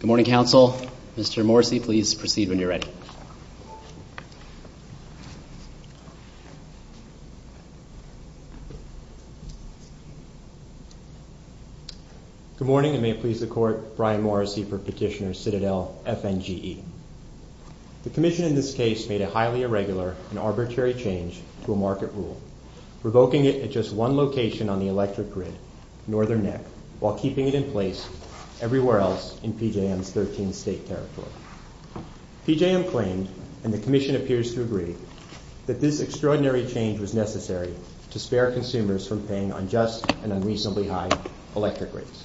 Good morning, Council. Mr. Morrisey, please proceed when you're ready. Good morning, and may it please the Court, Brian Morrisey for Petitioner Citadel FNGE. The Commission in this case made a highly irregular and arbitrary change to a market rule, revoking it at just one location on the electric grid, Northern Neck, while keeping it in place everywhere else in PJM's 13th State Territory. PJM claimed, and the Commission appears to agree, that this extraordinary change was necessary to spare consumers from paying unjust and unreasonably high electric rates.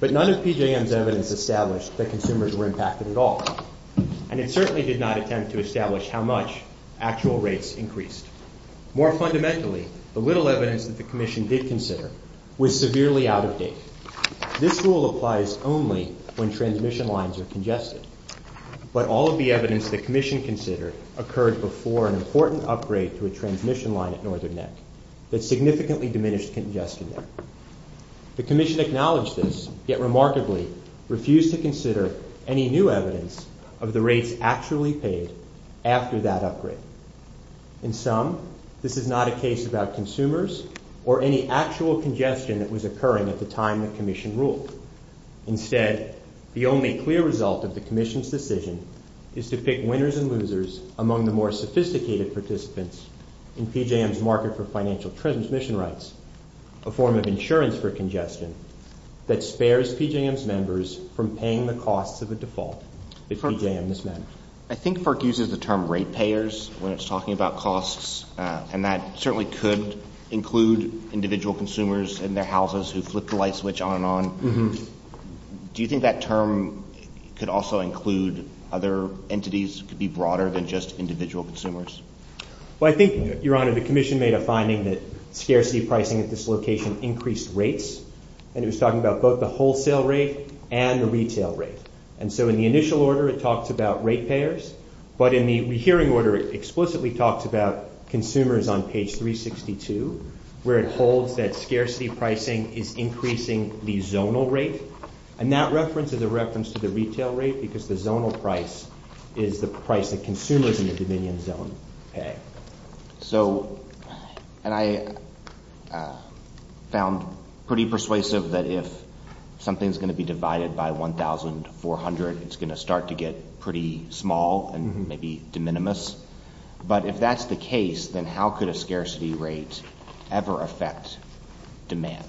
But none of PJM's evidence established that consumers were impacted at all, and it certainly did not attempt to establish how much actual rates increased. More fundamentally, the little evidence that the Commission did consider was severely out of date. This rule applies only when transmission lines are congested. But all of the evidence the Commission considered occurred before an important upgrade to a transmission line at Northern Neck that significantly diminished congestion there. The Commission acknowledged this, yet remarkably refused to consider any new evidence of the rates actually paid after that upgrade. In sum, this is not a case about consumers or any actual congestion that was occurring at the time the Commission ruled. Instead, the only clear result of the Commission's decision is to pick winners and losers among the more sophisticated participants in PJM's market for financial transmission rights, a form of insurance for congestion that spares PJM's members from paying the costs of a default if PJM is not. I think FERC uses the term rate payers when it's talking about costs, and that certainly could include individual consumers and their houses who flip the light switch on and on. Do you think that term could also include other entities, could be broader than just individual consumers? Well, I think, Your Honor, the Commission made a finding that scarcity pricing at this location increased rates, and it was talking about both the wholesale rate and the retail rate. And so in the initial order, it talked about rate payers, but in the hearing order, it explicitly talks about consumers on page 362, where it holds that scarcity pricing is increasing the zonal rate, and that reference is a reference to the retail rate, because the zonal price is the price that consumers in the Dominion zone pay. So, and I found pretty persuasive that if something's going to be divided by 1,400, it's going to start to get pretty small and maybe de minimis. But if that's the case, then how could a scarcity rate ever affect demand?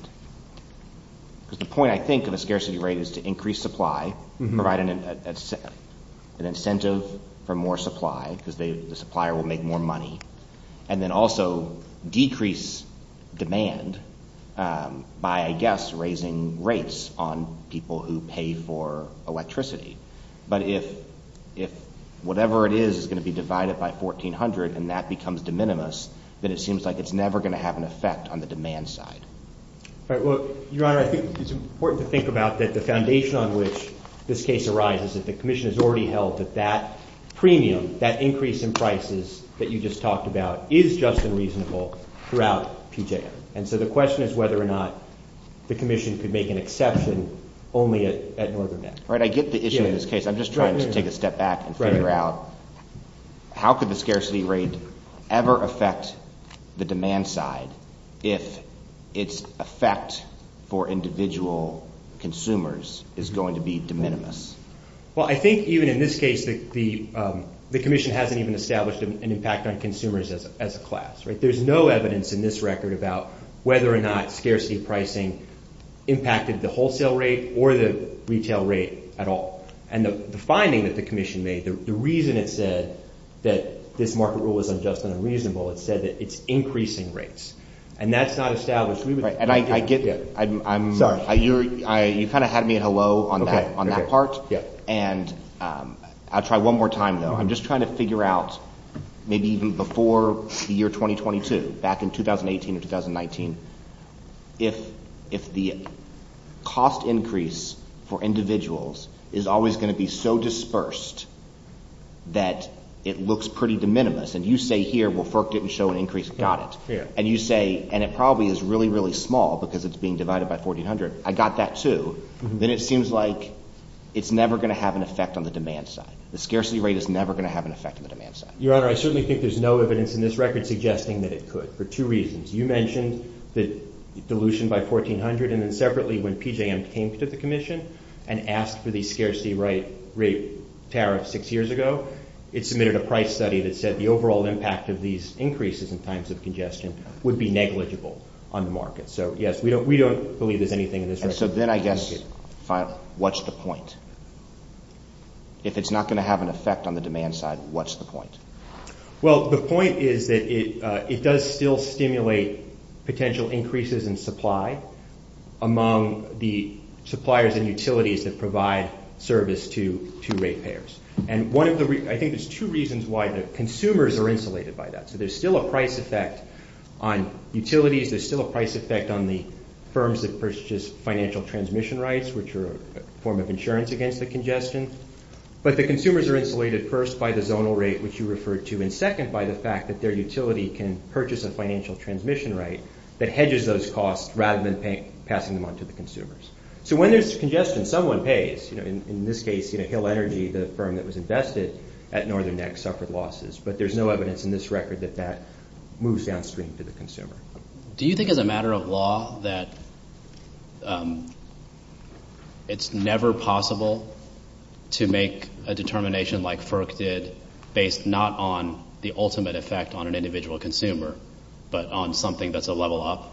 Because the point, I think, of a scarcity rate is to increase supply, provide an incentive for more supply, because the supplier will make more money, and then also decrease demand by, I guess, raising rates on people who pay for electricity. But if whatever it is is going to be divided by 1,400, and that becomes de minimis, then it seems like it's never going to have an effect on the demand side. All right, well, Your Honor, I think it's important to think about that the foundation on which this case arises is that the Commission has already held that that premium, that increase in prices that you just talked about, is just and reasonable throughout Puget. And so the question is whether or not the Commission could make an exception only at Northern Bend. All right, I get the issue in this case. I'm just trying to take a step back and figure out how could the scarcity rate ever affect the demand side if its effect for individual consumers is going to be de minimis? Well, I think even in this case, the Commission hasn't even established an impact on consumers as a class. There's no evidence in this record about whether or not scarcity pricing impacted the wholesale rate or the retail rate at all. And the finding that the Commission made, the reason it said that this market rule is unjust and unreasonable, it said that it's increasing rates. And that's not established. And I get that. You kind of had me in a low on that part. And I'll try one more time, though. I'm just trying to figure out, maybe even before the year 2022, back in 2018 or 2019, if the cost increase for individuals is always going to be so dispersed that it looks pretty de minimis. And you say here, well, FERC didn't show an increase. Got it. And you say, and it probably is really, really small because it's being divided by 1,400. I got that, too. Then it seems like it's never going to have an effect on the demand side. The scarcity rate is never going to have an effect on the demand side. Your Honor, I certainly think there's no evidence in this record suggesting that it could for two reasons. You mentioned the dilution by 1,400. And then separately, when PJM came to the Commission and asked for the scarcity rate tariffs six years ago, it submitted a price study that said the overall impact of these increases in times of congestion would be negligible on the market. So, yes, we don't believe there's anything in this record. And so then I guess, what's the point? If it's not going to have an effect on the demand side, what's the point? Well, the point is that it does still stimulate potential increases in supply among the suppliers and utilities that provide service to ratepayers. And I think there's two reasons why the consumers are insulated by that. So there's still a price effect on utilities. There's still a price effect on the firms that purchase financial transmission rights, which are a form of insurance against the congestion. But the consumers are insulated first by the zonal rate, which you referred to, and second by the fact that their utility can purchase a financial transmission right that hedges those costs rather than passing them on to the consumers. So when there's congestion, someone pays. In this case, Hill Energy, the firm that was invested at Northern Neck, suffered losses. But there's no evidence in this record that that moves downstream to the consumer. Do you think as a matter of law that it's never possible to make a determination like that, not on the ultimate effect on an individual consumer, but on something that's a level up?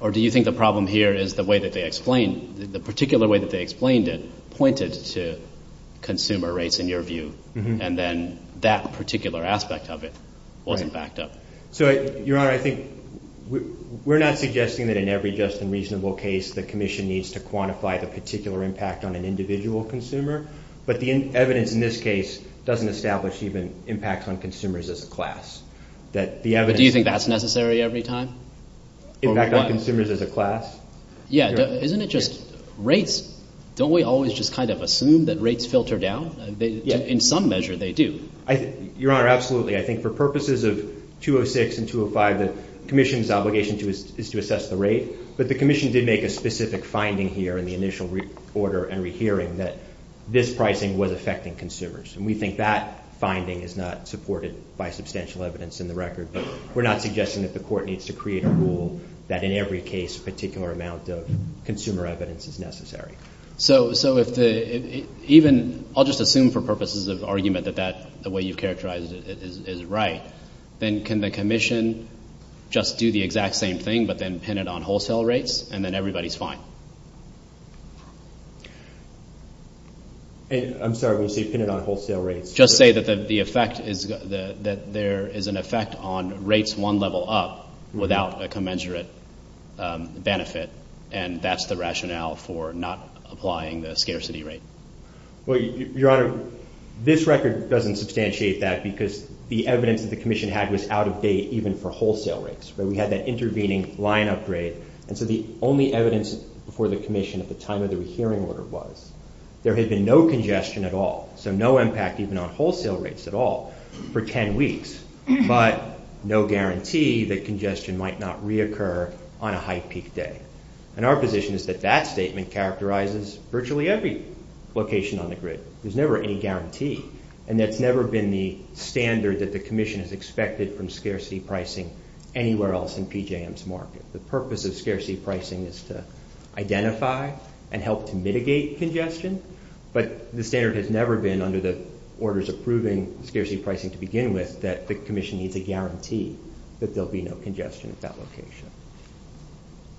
Or do you think the problem here is the way that they explained, the particular way that they explained it pointed to consumer rates, in your view, and then that particular aspect of it wasn't backed up? So, Your Honor, I think we're not suggesting that in every just and reasonable case the consumer, but the evidence in this case doesn't establish even impacts on consumers as a class. That the evidence... Do you think that's necessary every time? Impact on consumers as a class? Yeah. Isn't it just rates? Don't we always just kind of assume that rates filter down? In some measure, they do. Your Honor, absolutely. I think for purposes of 206 and 205, the Commission's obligation is to assess the rate. But the Commission did make a specific finding here in the initial order and rehearing that this pricing was affecting consumers. And we think that finding is not supported by substantial evidence in the record. But we're not suggesting that the Court needs to create a rule that in every case, a particular amount of consumer evidence is necessary. So, if the... Even... I'll just assume for purposes of argument that that's the way you characterized it is right, then can the Commission just do the exact same thing, but then pin it on wholesale rates, and then everybody's fine? I'm sorry. You said pin it on wholesale rates. Just say that the effect is... That there is an effect on rates one level up without a commensurate benefit. And that's the rationale for not applying the scarcity rate. Well, Your Honor, this record doesn't substantiate that because the evidence that the Commission had was out of date even for wholesale rates. We had that intervening line upgrade. And so the only evidence for the Commission at the time of the rehearing order was there had been no congestion at all. So no impact even on wholesale rates at all for 10 weeks. But no guarantee that congestion might not reoccur on a high peak day. And our position is that that statement characterizes virtually every location on the grid. There's never any guarantee. And there's never been the standard that the Commission has expected from scarcity pricing anywhere else in PJM's market. The purpose of scarcity pricing is to identify and help to mitigate congestion. But the standard has never been under the orders of proving scarcity pricing to begin with that the Commission needs a guarantee that there'll be no congestion at that location.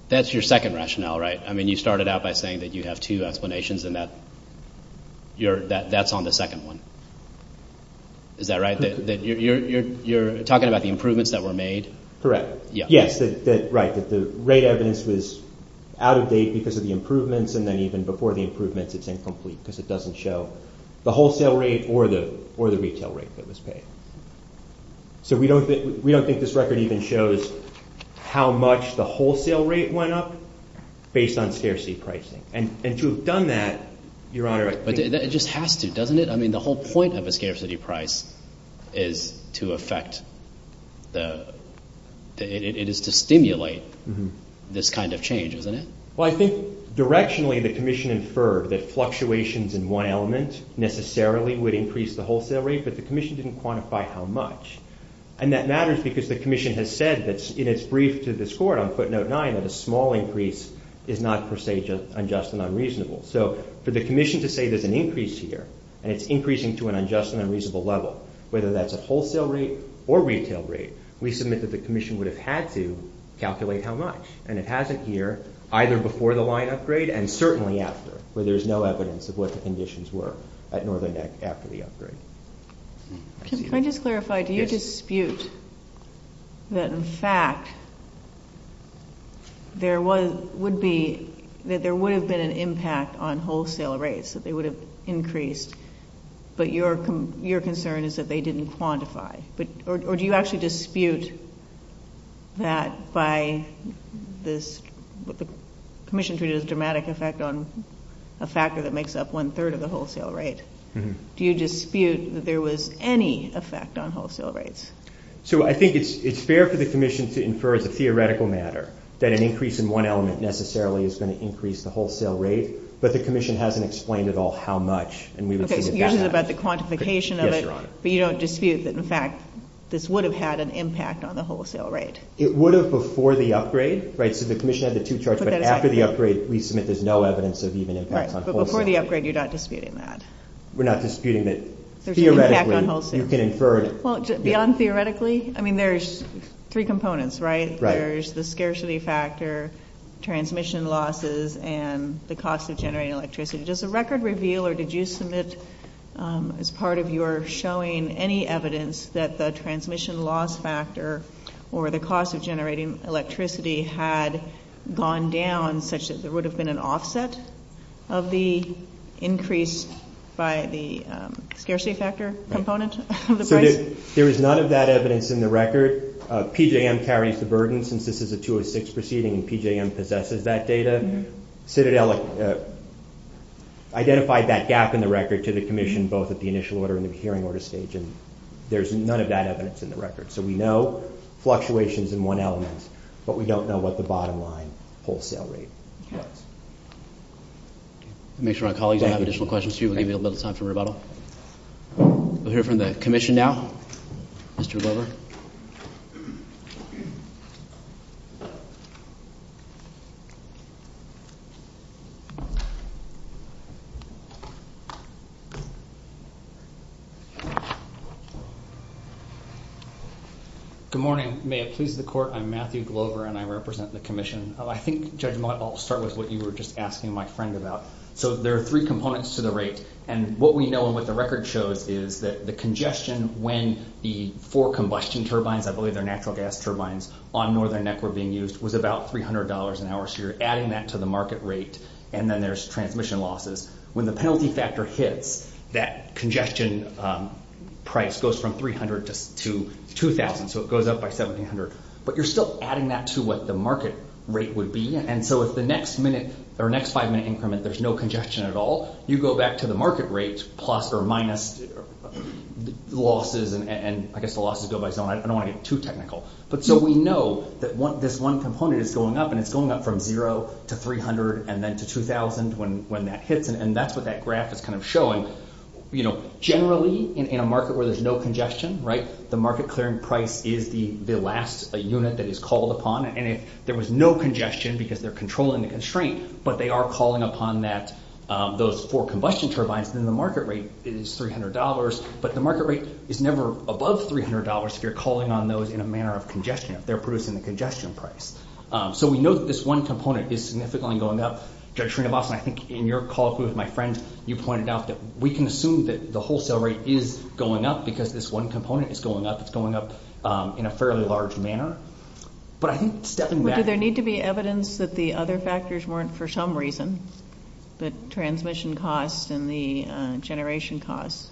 That's your second rationale, right? I mean, you started out by saying that you have two explanations, and that's on the second one. Is that right? You're talking about the improvements that were made? Correct. Yes. Right. The rate evidence was out of date because of the improvements, and then even before the improvements, it's incomplete because it doesn't show the wholesale rate or the retail rate that was paid. So we don't think this record even shows how much the wholesale rate went up based on scarcity pricing. And to have done that, Your Honor... It just has to, doesn't it? I mean, the whole point of a scarcity price is to affect the... It is to stimulate this kind of change, isn't it? Well, I think directionally, the Commission inferred that fluctuations in one element necessarily would increase the wholesale rate, but the Commission didn't quantify how much. And that matters because the Commission has said that in its brief to this Court on footnote nine, that a small increase is not per se unjust and unreasonable. So for the Commission to say there's an increase here, and it's increasing to an unjust and unreasonable level, whether that's a wholesale rate or retail rate, we submit that the Commission would have had to calculate how much. And it hasn't here, either before the line upgrade and certainly after, where there's no evidence of what the conditions were at Northern Deck after the upgrade. Can I just clarify? Do you dispute that, in fact, there would have been an impact on wholesale rates, that they would have increased, but your concern is that they didn't quantify? Or do you actually dispute that by this... The Commission's view is dramatic effect on a factor that makes up one-third of the wholesale rate. Do you dispute that there was any effect on wholesale rates? So I think it's fair for the Commission to infer as a theoretical matter that an increase in one element necessarily is going to increase the wholesale rate, but the Commission hasn't explained at all how much, and we would think of that as... Okay, usually about the quantification of it, but you don't dispute that, in fact, this would have had an impact on the wholesale rate? It would have before the upgrade, right? So the Commission had the two charts, but after the upgrade, we submit there's no evidence of even impact on wholesale rates. Right, but before the upgrade, you're not disputing that? We're not disputing that, theoretically, you can infer... Well, beyond theoretically, I mean, there's three components, right? There's the scarcity factor, transmission losses, and the cost of generating electricity. Does the record reveal or did you submit as part of your showing any evidence that the transmission loss factor or the cost of generating electricity had gone down, such as there would have been an offset of the increase by the scarcity factor component of the price? There is none of that evidence in the record. PJM carries the burden, since this is a jurisdiction proceeding and PJM possesses that data. Citadel identified that gap in the record to the Commission both at the initial order and the hearing order stage, and there's none of that evidence in the record. So we know fluctuations in one element, but we don't know what the bottom line wholesale rate was. Make sure our colleagues have additional questions, too. We'll give you a little time for rebuttal. We'll hear from the Commission now. Mr. Glover. Good morning. May it please the Court, I'm Matthew Glover and I represent the Commission. I think, Judge Mott, I'll start with what you were just asking my friend about. So there are three components to the rate, and what we know and what the record shows is that the congestion when the four combustion turbines, I believe they're natural gas turbines, on Northern Neck were being used was about $300 an hour, so you're adding that to the market rate, and then there's transmission losses. When the penalty factor hits, that congestion price goes from $300 to $2,000, so it goes up by $1,700. But you're still adding that to what the market rate would be, and so if the next minute or next five-minute increment there's no congestion at all, you go back to the market rate plus or minus losses, and I guess the losses go by, I don't want to get too technical. So we know that this one component is going up, and it's going up from $0 to $300 and then to $2,000 when that hits, and that's what that graph is kind of showing. Generally, in a market where there's no congestion, the market clearing price is the last unit that is called upon, and there was no congestion because they're controlling the constraint, but they are calling upon those four combustion turbines, and the market rate is $300, but the market rate is never above $300 if you're calling on those in a manner of congestion. They're producing the congestion price. So we know that this one component is significantly going up. I think in your call with my friend, you pointed out that we can assume that the wholesale rate is going up because this one component is going up. It's going up in a fairly large manner, but I think stepping down, is there any evidence that the other factors weren't, for some reason, the transmission costs and the generation costs,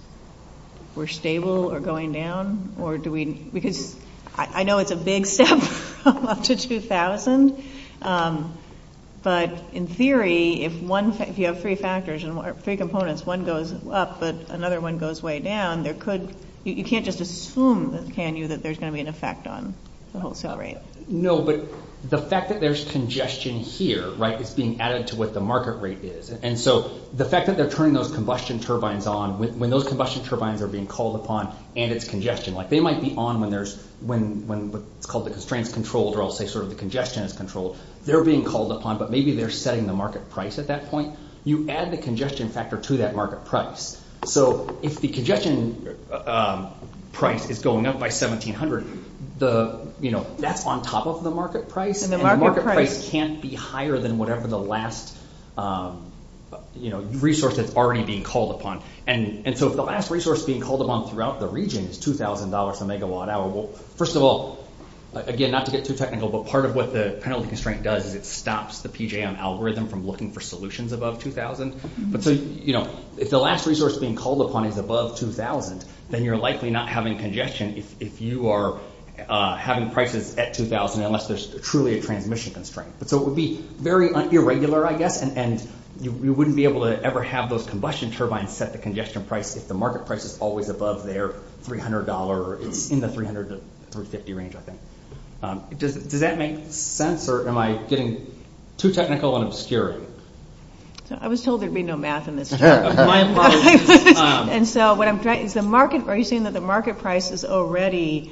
were stable or going down, or do we, because I know it's a big step up to $2,000, but in theory, if you have three factors and three components, one goes up, but another one goes way down, there could, you can't just assume, can you, that there's going to be an effect on the wholesale rate? No, but the fact that there's congestion here, it's being added to what the market rate is, and so the fact that they're turning those combustion turbines on, when those combustion turbines are being called upon, and it's congestion, they might be on when there's, when what's called the constraint control, or I'll say sort of the congestion control, they're being called upon, but maybe they're setting the market price at that point. You add the congestion factor to that market price. So if the congestion price is going up by $1,700, that's on top of the market price, and the market price can't be higher than whatever the last resource is already being called upon, and so if the last resource being called upon throughout the region is $2,000 a megawatt hour, well, first of all, again, not to get too technical, but part of what the penalty constraint does is it stops the PJM algorithm from looking for solutions above $2,000, but so if the last resource being called upon is above $2,000, then you're likely not having congestion if you are having prices at $2,000 unless there's truly a transmission constraint. So it would be very irregular, I guess, and you wouldn't be able to ever have those combustion turbines set the congestion price if the market price is always above their $300, in the $300 to $350 range, I think. Does that make sense, or am I getting too technical on obscurity? I was told there'd be no math in this. And so what I'm trying to say is the market price is already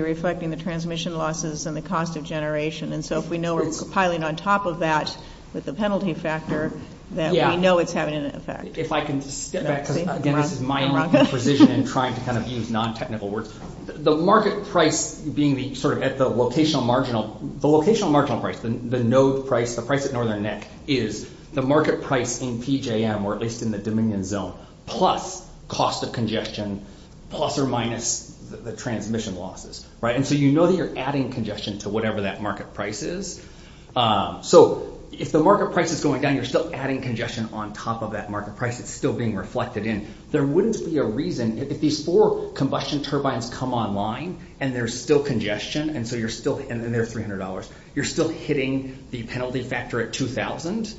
reflecting the transmission losses and the cost of generation, and so if we know we're compiling on top of that with the penalty factor, then we know it's having an effect. If I can step back, because, again, this is my own position in trying to kind of use non-technical words. The market price being sort of at the locational marginal price, the no price of Northern Neck, is the market price in PJM, or it's in the Dominion zone, plus cost of congestion, plus or minus the transmission losses. And so you know that you're adding congestion to whatever that market price is. So if the market price is going down, you're still adding congestion on top of that market price, it's still being reflected in. There wouldn't be a reason, if these four combustion turbines come online and there's still congestion, and then there's $300, you're still hitting the penalty factor at $2,000.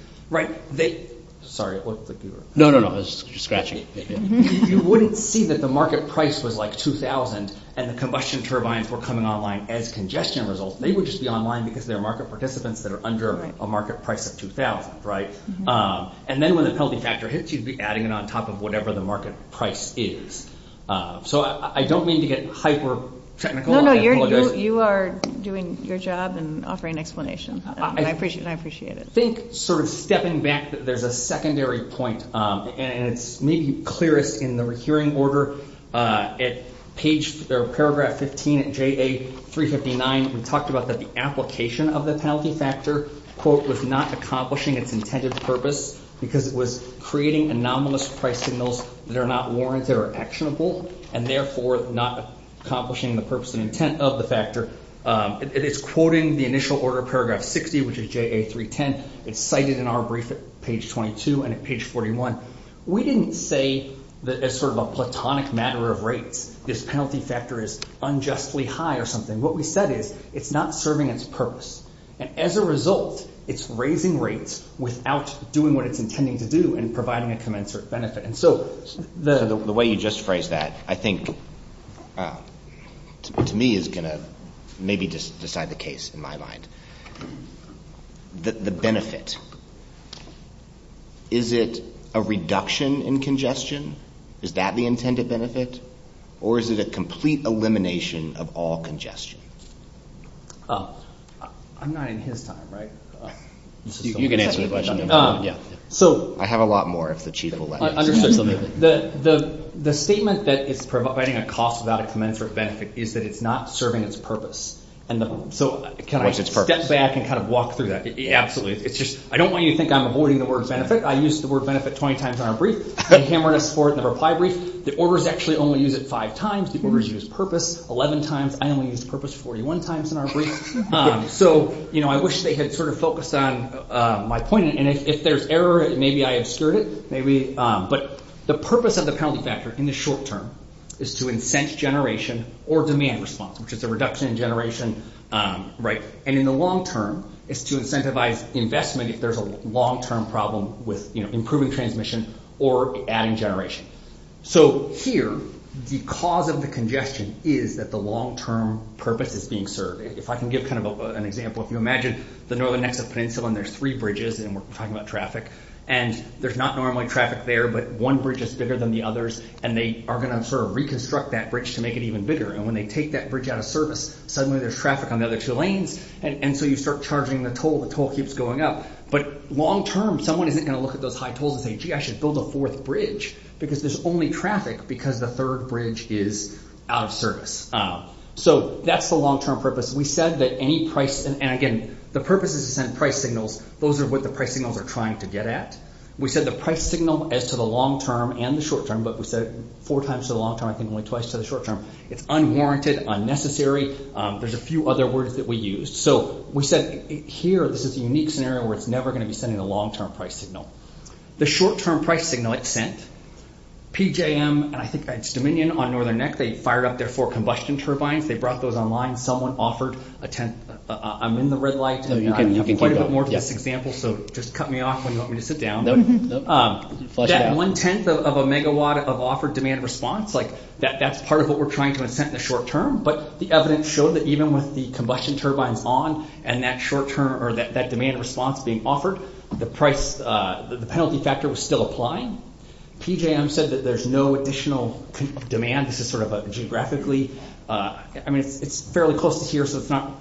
You wouldn't see that the market price was like $2,000 and the combustion turbines were coming online as congestion results. They would just be online because they're market participants that are under a market price of $2,000. And then when the penalty factor hits, you'd be adding it on top of whatever the market price is. So I don't mean to get hyper-technical. No, no, you are doing your job and offering an explanation. I appreciate it. I think sort of stepping back, there's a secondary point, and it needs to be cleared in the hearing order. At paragraph 15 of JA359, we talked about the application of the penalty factor was not accomplishing its intended purpose because it was creating anomalous price signals that are not warranted or actionable, and therefore not accomplishing the purpose and intent of the factor. It is quoting the initial order of paragraph 60, which is JA310. It's cited in our brief at page 22 and at page 41. We didn't say that as sort of a platonic matter of rate, this penalty factor is unjustly high or something. What we said is, it's not serving its purpose. And as a result, it's raising rates without doing what it's intending to do and providing a commensurate benefit. So the way you just phrased that, I think to me is going to maybe decide the case in my mind. The benefit, is it a reduction in congestion? Is that the intended benefit? Or is it a complete elimination of all congestion? I'm not in his time, right? You can answer the question. I have a lot more if the Chief will let me. The statement that it's providing a cost without a commensurate benefit is that it's not serving its purpose. So can I step back and kind of walk through that? Absolutely. I don't want you to think I'm avoiding the word benefit. I used the word benefit 20 times in our brief. The orders actually only use it five times. The orders use purpose 11 times. I only use purpose 41 times in our brief. So I wish they had sort of focused on my point. And if there's errors, maybe I obscured it. But the purpose of the penalty factor in the short term is to incent generation or demand response, which is the reduction in generation rate. And in the long term, it's to incentivize investment if there's a long-term problem with improving transmission or adding generation. So here, the cause of the congestion is that the long-term purpose is being served. If I can give kind of an example. If you imagine the northern Nexus Peninsula and there's three bridges, and we're talking about traffic, and there's not normally traffic there, but one bridge is bigger than the others, and they are going to sort of reconstruct that bridge to make it even bigger. And when they take that bridge out of service, suddenly there's traffic on the other two lanes, and so you start charging the toll. The toll keeps going up. But long term, someone isn't going to look at those high tolls and say, gee, I should build a fourth bridge because there's only traffic because the third bridge is out of service. So that's the long-term purpose. We said that any price – and again, the purpose is to send price signals. Those are what the price signals are trying to get at. We said the price signal is to the long term and the short term, but we said four times to the long term, I think only twice to the short term. It's unwarranted, unnecessary. There's a few other words that we used. So we said here, this is a unique scenario where it's never going to be sending a long-term price signal. The short-term price signal, it sent. PJM, I think that's Dominion on Northern Neck, they fired up their four combustion turbines. They brought those online. Someone offered a tenth. I'm in the red light. You can get a little bit more of this example, so just cut me off when you want me to sit down. That one-tenth of a megawatt of offered demand response, like that's part of what we're trying to incent in the short term, but the evidence showed that even with the combustion turbine on and that demand response being offered, the penalty factor was still applied. PJM said that there's no additional demand. This is sort of geographically. I mean, it's fairly close to here, so it's not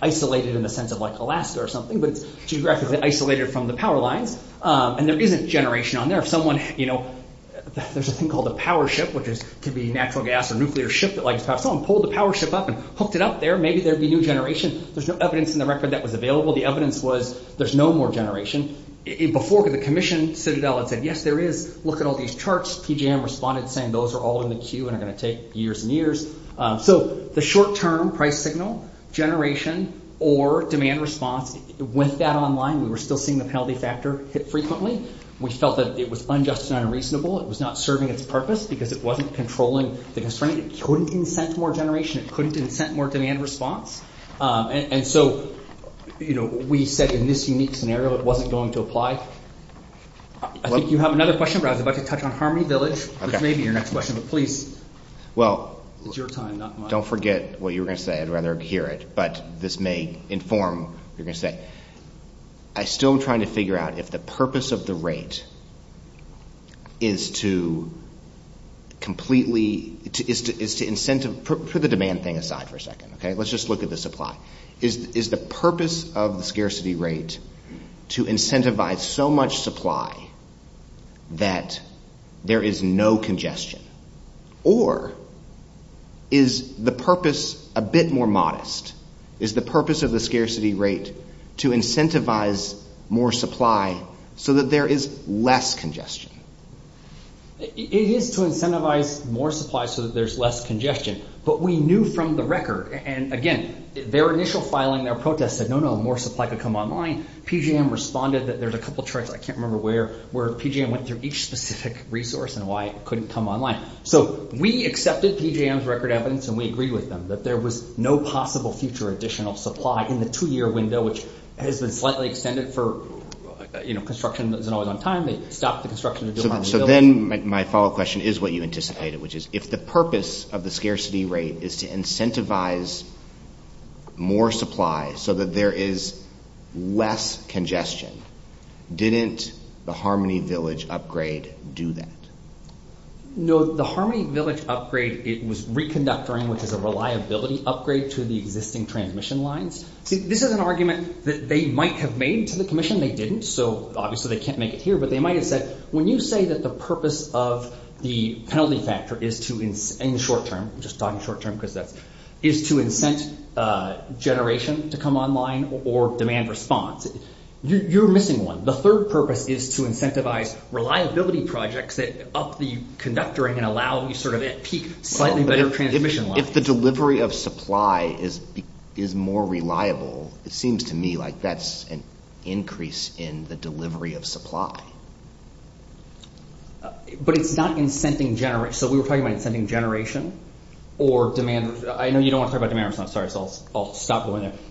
isolated in the sense of like Alaska or something, but geographically isolated from the power line, and there isn't generation on there. If someone, you know, there's a thing called a power ship, which can be a natural gas or nuclear ship, like if someone pulled the power ship up and hooked it up there, maybe there'd be new generation. There's no evidence in the record that was available. The evidence was there's no more generation. Before the commission, Citadel had said, yes, there is. Look at all these charts. PJM responded saying those are all in the queue and are going to take years and years. So the short-term price signal, generation, or demand response, went down online. We were still seeing the penalty factor hit frequently. We felt that it was unjust and unreasonable. It was not serving its purpose because it wasn't controlling the constraint. It couldn't incent more generation. It couldn't incent more demand response. And so, you know, we said in this unique scenario it wasn't going to apply. I think you have another question, but I was about to touch on Harmony Village, which may be your next question, but please, it's your time, not mine. Don't forget what you were going to say. I'd rather hear it, but this may inform what you're going to say. I'm still trying to figure out if the purpose of the rate is to completely, is to incentive, put the demand thing aside for a second, okay? Let's just look at the supply. Is the purpose of the scarcity rate to incentivize so much supply that there is no congestion? Or is the purpose a bit more modest? Is the purpose of the scarcity rate to incentivize more supply so that there is less congestion? It is to incentivize more supply so that there's less congestion, but we knew from the record, and again, their initial filing, their protest said, no, no, more supply could come online. PGM responded that there's a couple of charts, I can't remember where, where PGM went through each specific resource and why it couldn't come online. So we accepted PGM's record evidence, and we agree with them, that there was no possible future additional supply in the two-year window, which has been slightly extended for construction that isn't always on time. They stopped the construction of the Harmony Village. So then my follow-up question is what you anticipated, which is if the purpose of the scarcity rate is to incentivize more supply so that there is less congestion, didn't the Harmony Village upgrade do that? No, the Harmony Village upgrade was reconductoring, which is a reliability upgrade to the existing transmission lines. This is an argument that they might have made to the commission. They didn't, so obviously they can't make it here, but they might have said, when you say that the purpose of the penalty factor is to, in the short term, is to incent generation to come online or demand response. You're missing one. The third purpose is to incentivize reliability projects that up the conductor and allow you to peak slightly better transmission lines. If the delivery of supply is more reliable, it seems to me like that's an increase in the delivery of supply. But it's not incenting generation. So we were talking about incenting generation or demand. I know you don't want to talk about demand, I'm sorry, so I'll stop.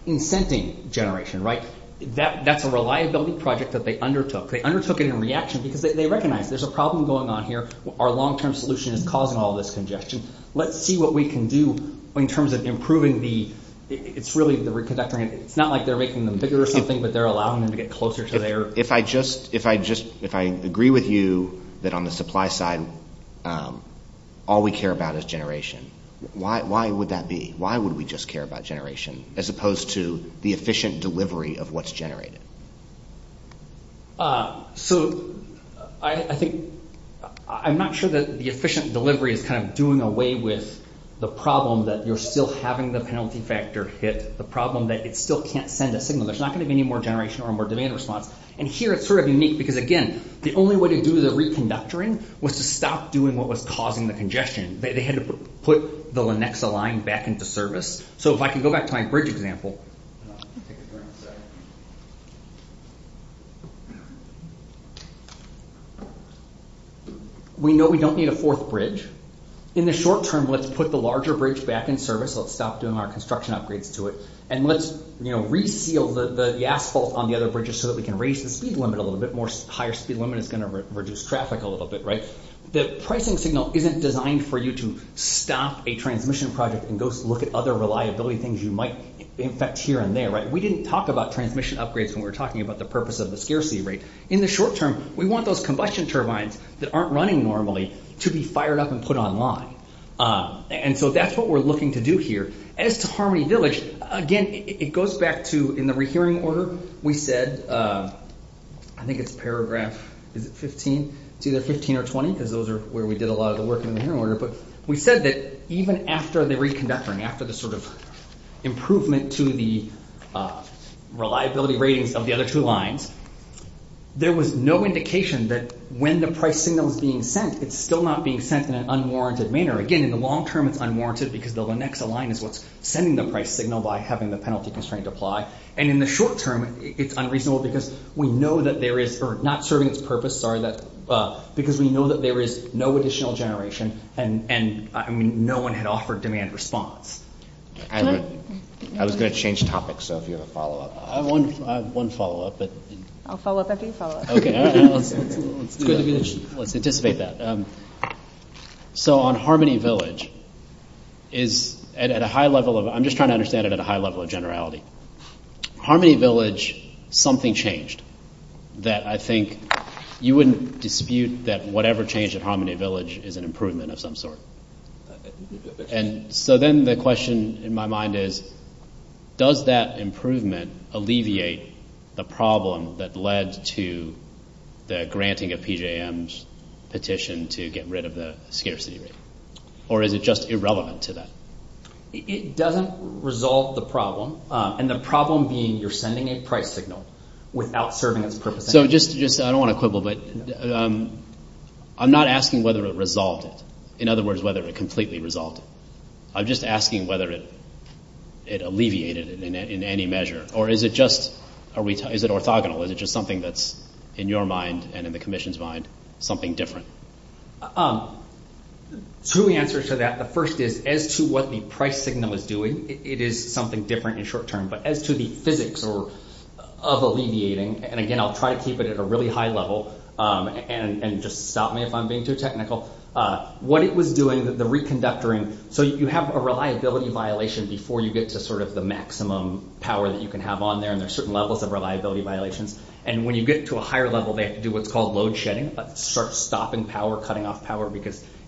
Incenting generation, right? That's a reliability project that they undertook. They undertook it in reaction because they recognize there's a problem going on here. Our long-term solution is causing all this congestion. Let's see what we can do in terms of improving the, it's really, it's not like they're making them bigger or something, but they're allowing them to get closer to there. If I agree with you that on the supply side, all we care about is generation, why would that be? Why would we just care about generation as opposed to the efficient delivery of what's generated? I'm not sure that the efficient delivery is kind of doing away with the problem that you're still having the penalty factor fit, the problem that it still can't send a signal. There's not going to be any more generation or more demand response. And here it's sort of unique because, again, the only way to do the reconductoring was to stop doing what was causing the congestion. They had to put the Lenexa line back into service. So if I can go back to my bridge example. We know we don't need a fourth bridge. In the short term, let's put the larger bridge back in service. Let's stop doing our construction upgrades to it. And let's re-seal the asphalt on the other bridges so that we can raise the speed limit a little bit more. Higher speed limit is going to reduce traffic a little bit. The pricing signal isn't designed for you to stop a transmission project and go look at other reliability things you might infect here and there. We didn't talk about transmission upgrades when we were talking about the purpose of the scarcity rate. In the short term, we want those combustion turbines that aren't running normally to be fired up and put online. And so that's what we're looking to do here. As to Harmony Village, again, it goes back to, in the rehearing order, we said, I think it's paragraph 15, it's either 15 or 20 because those are where we did a lot of the work in the hearing order. But we said that even after the reconvection, after the sort of improvement to the reliability rating of the other two lines, there was no indication that when the pricing was being sent, it's still not being sent in an unwarranted manner. Again, in the long term, it's unwarranted because the Lenexa line is what's sending the price signal by having the penalty constraint apply. And in the short term, it's unreasonable because we know that there is, or not serving its purpose, sorry, because we know that there is no additional generation and no one had offered demand response. I was going to change topics, so if you have a follow-up. I have one follow-up. I'll follow up after you follow up. Let's anticipate that. So on Harmony Village, I'm just trying to understand it at a high level of generality. Harmony Village, something changed that I think you wouldn't dispute that whatever changed at Harmony Village is an improvement of some sort. And so then the question in my mind is, petition to get rid of the scarcity rate. Or is it just irrelevant to that? It doesn't resolve the problem. And the problem being you're sending a price signal without serving its purpose. So just, I don't want to quibble, but I'm not asking whether it resolved it. In other words, whether it completely resolved it. I'm just asking whether it alleviated it in any measure. Or is it just, is it orthogonal? Or is it just something that's, in your mind and in the commission's mind, something different? Two answers to that. The first is, as to what the price signal is doing, it is something different in short term. But as to the physics of alleviating, and again, I'll try to keep it at a really high level, and just stop me if I'm being too technical. What it was doing, the reconductoring, so you have a reliability violation before you get to sort of the maximum power that you can have on there. And there's certain levels of reliability violations. And when you get to a higher level, they have to do what's called load shedding. Start stopping power, cutting off power.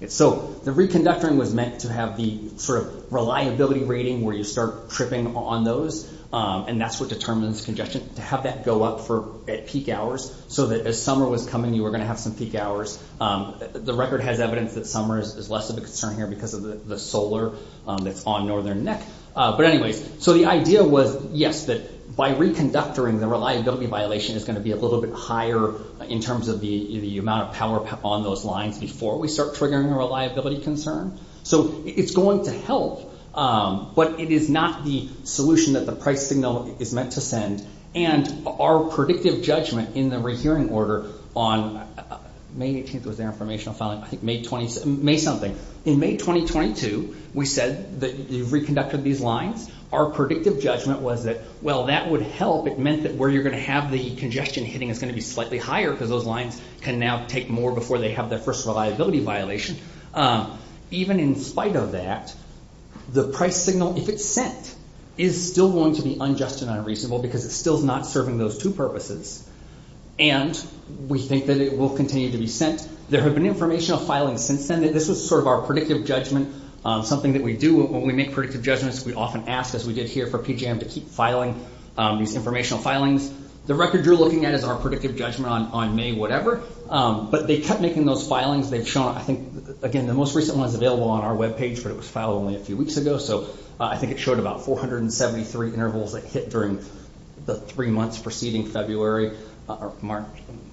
So the reconductoring was meant to have the sort of reliability rating where you start tripping on those. And that's what determines congestion. To have that go up at peak hours, so that as summer was coming, you were going to have some peak hours. The record has evidence that summer is less of a concern here because of the solar that's on Northern Next. But anyway, so the idea was, yes, that by reconductoring, the reliability violation is going to be a little bit higher in terms of the amount of power on those lines before we start triggering the reliability concern. So it's going to help, but it is not the solution that the price signal is meant to send. And our predictive judgment in the reviewing order on May 18th was the informational filing, May something. In May 2022, we said that we reconducted these lines. Our predictive judgment was that, well, that would help. It meant that where you're going to have the congestion hitting is going to be slightly higher because those lines can now take more before they have that personal liability violation. Even in spite of that, the price signal, if it's sent, is still going to be unjust and unreasonable because it's still not serving those two purposes. And we think that it will continue to be sent. There have been informational filings since then. This was sort of our predictive judgment, something that we do when we make predictive judgments. We often ask, as we did here, for PGM to keep filing these informational filings. The record you're looking at is our predictive judgment on May whatever. But they kept making those filings. They've shown, I think, again, the most recent one is available on our webpage, but it was filed only a few weeks ago. So I think it showed about 473 intervals that hit during the three months preceding February or March.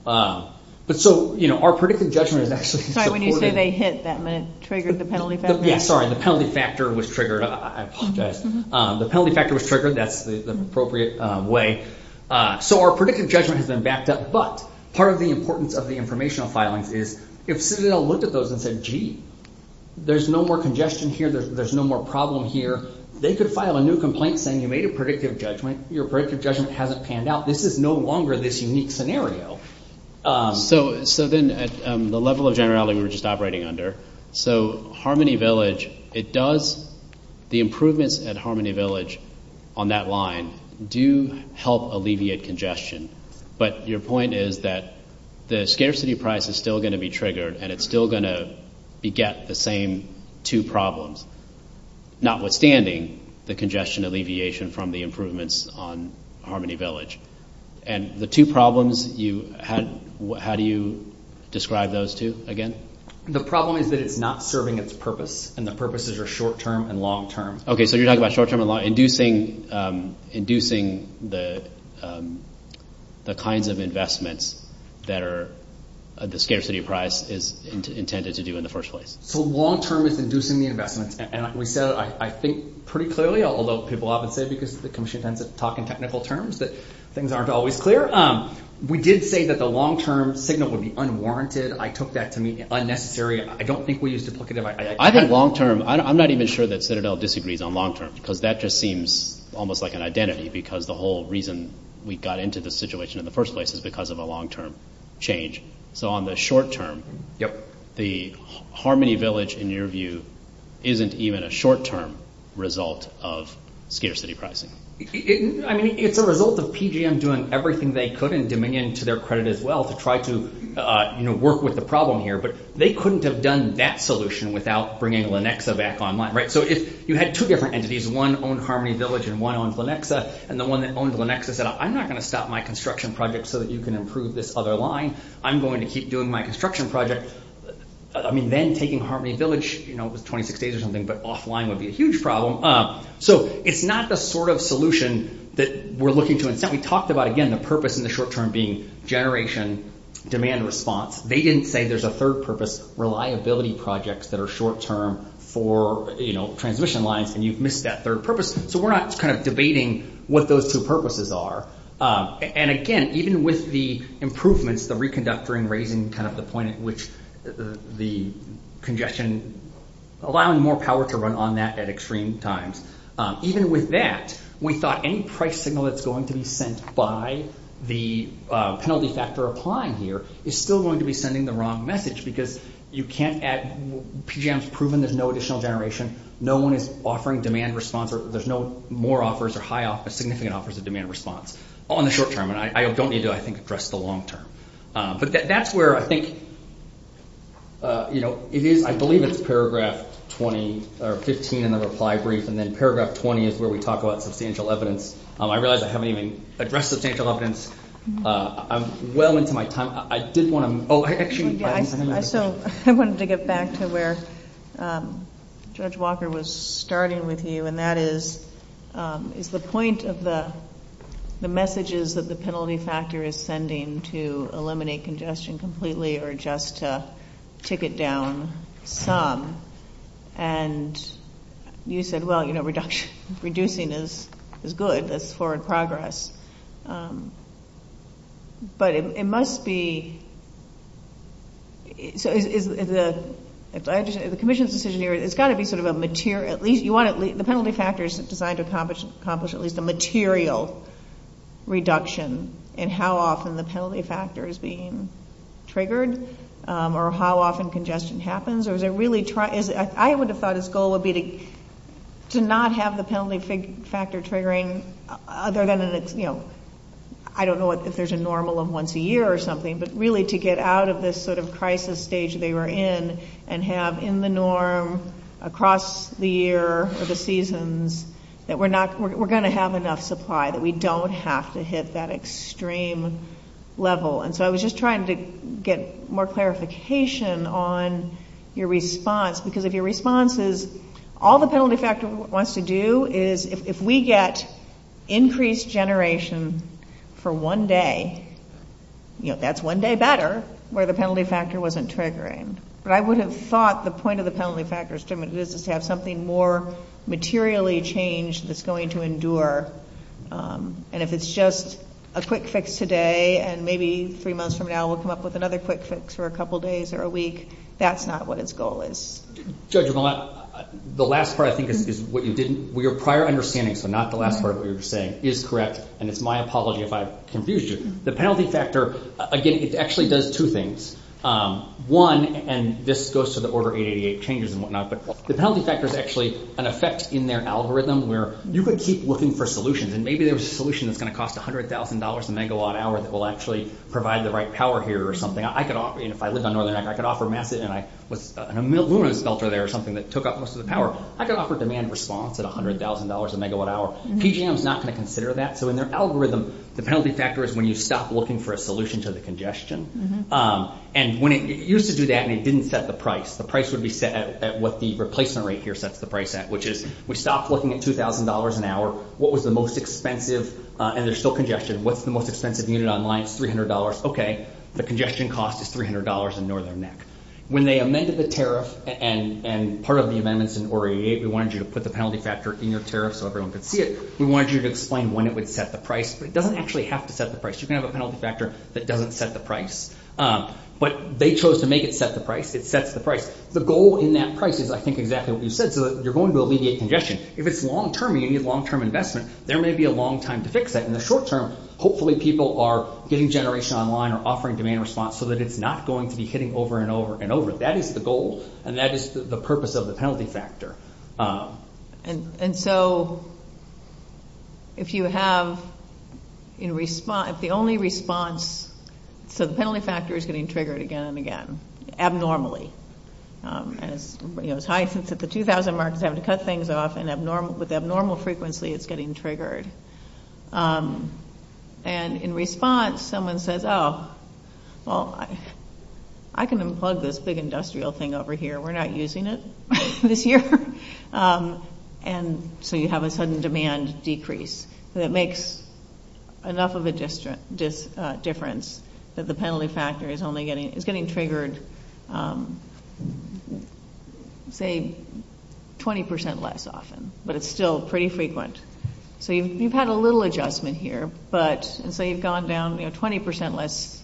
But so, you know, our predictive judgment is actually... Sorry, when you say they hit, that meant triggered the penalty factor? Yeah, sorry, the penalty factor was triggered. I apologize. The penalty factor was triggered. That's the appropriate way. So our predictive judgment has been backed up. But part of the importance of the informational filings is if Citadel looked at those and said, gee, there's no more congestion here. There's no more problem here. They could file a new complaint saying you made a predictive judgment. Your predictive judgment hasn't panned out. This is no longer this unique scenario. So then the level of generality we were just operating under. So Harmony Village, it does... The improvements at Harmony Village on that line do help alleviate congestion. But your point is that the scarcity price is still going to be triggered and it's still going to beget the same two problems, notwithstanding the congestion alleviation from the improvements on Harmony Village. And the two problems, how do you describe those two again? The problem is that it's not serving its purpose. And the purposes are short-term and long-term. Okay, so you're talking about short-term and long-term. Inducing the kinds of investments that the scarcity price is intended to do in the first place. So long-term is inducing the investments. And like we said, I think pretty clearly, although people often say because the commission tends to talk in technical terms, that things aren't always clear. We did say that the long-term signal would be unwarranted. I took that to mean unnecessary. I don't think we used duplicative. I think long-term... I'm not even sure that Citadel disagrees on long-term because that just seems almost like an identity because the whole reason we got into this situation in the first place is because of a long-term change. So on the short-term, the Harmony Village in your view isn't even a short-term result of scarcity pricing. It's a result of PGM doing everything they could and Dominion to their credit as well to try to work with the problem here. But they couldn't have done that solution without bringing Lenexa back online. So you had two different entities. One owned Harmony Village and one owned Lenexa. And the one that owned Lenexa said, I'm not going to stop my construction project so that you can improve this other line. I'm going to keep doing my construction project. I mean, then taking Harmony Village, it was 26 days or something, but offline would be a huge problem. So it's not the sort of solution that we're looking to. We talked about, again, the purpose in the short-term being generation, demand and response. They didn't say there's a third purpose, reliability projects that are short-term for transmission lines, and you've missed that third purpose. So we're not debating what those two purposes are. And again, even with the improvements, the reconductor and raising the point at which the congestion, allowing more power to run on that at extreme times. Even with that, we thought any price signal that's going to be sent by the penalties that they're applying here is still going to be sending the wrong message because you can't add, PGM's proven there's no additional generation. No one is offering demand response or there's no more offers or significant offers of demand response on the short-term. And I don't need to, I think, address the long-term. But that's where I think, you know, I believe it's paragraph 15 in the reply brief, and then paragraph 20 is where we talk about substantial evidence. I realize I haven't even addressed the substantial evidence. I'm well into my time. I just want to, oh, actually. I wanted to get back to where Judge Walker was starting with you, and that is, is the point of the messages that the penalty factor is sending to eliminate congestion completely or just to take it down some. And you said, well, you know, reducing is good. That's forward progress. But it must be, so is the commission's decision here, it's got to be sort of a material, the penalty factor is designed to accomplish at least a material reduction in how often the penalty factor is being triggered or how often congestion happens? Or is it really, I would have thought its goal would be to not have the penalty factor triggering other than in its, you know, I don't know if there's a normal of once a year or something, but really to get out of this sort of crisis stage they were in and have in the norm across the year or the seasons that we're going to have enough supply that we don't have to hit that extreme level. And so I was just trying to get more clarification on your response because if your response is all the penalty factor wants to do is if we get increased generation for one day, you know, that's one day better where the penalty factor wasn't triggering. But I would have thought the point of the penalty factor is to have something more materially changed that's going to endure. And if it's just a quick fix today and maybe three months from now we'll come up with another quick fix for a couple days or a week, that's not what its goal is. Judge, the last part I think is what you didn't, your prior understanding, so not the last part of what you're saying, is correct and it's my apology if I confused you. The penalty factor, again, it actually does two things. One, and this goes to the Order 888 changes and whatnot, the penalty factor is actually an effect in their algorithm where you could keep looking for solutions and maybe there was a solution that's going to cost $100,000 a megawatt hour that will actually provide the right power here or something. I could offer, and if I live on Northern, I could offer massive and I was in a lunar shelter there or something that took up most of the power. I could offer demand response at $100,000 a megawatt hour. PGM's not going to consider that. So in their algorithm, the penalty factor is when you stop looking for a solution to the congestion. And when it used to do that and it didn't set the price, the price would be set at what the replacement rate here sets the price at, which is we stopped looking at $2,000 an hour. What was the most expensive? And there's still congestion. What's the most expensive unit online? $300. Okay. The congestion cost is $300 in Northern next. When they amended the tariff and part of the amendments in Order 888, we wanted you to put the penalty factor in your tariff so everyone could see it. We wanted you to explain when it would set the price, but it doesn't actually have to set the price. You can have a penalty factor that doesn't set the price, but they chose to make it set the price. It sets the price. The goal in that price is I think exactly what you said. You're going to alleviate congestion. If it's long-term or you need long-term investment, there may be a long time to fix that. In the short term, hopefully people are getting generation online or offering demand response so that it's not going to be hitting over and over and over. That is the goal and that is the purpose of the penalty factor. And so if you have in response, the only response to the penalty factor is getting triggered again and again, abnormally. It's high since it's the 2000 market. They have to cut things off and with abnormal frequency, it's getting triggered. And in response, someone says, oh, well, I can unplug this big industrial thing over here. We're not using it this year. And so you have a sudden demand decrease that makes enough of a difference that the penalty factor is only getting, it's getting triggered, say, 20% less often, but it's still pretty frequent. So you've had a little adjustment here, but say you've gone down 20% less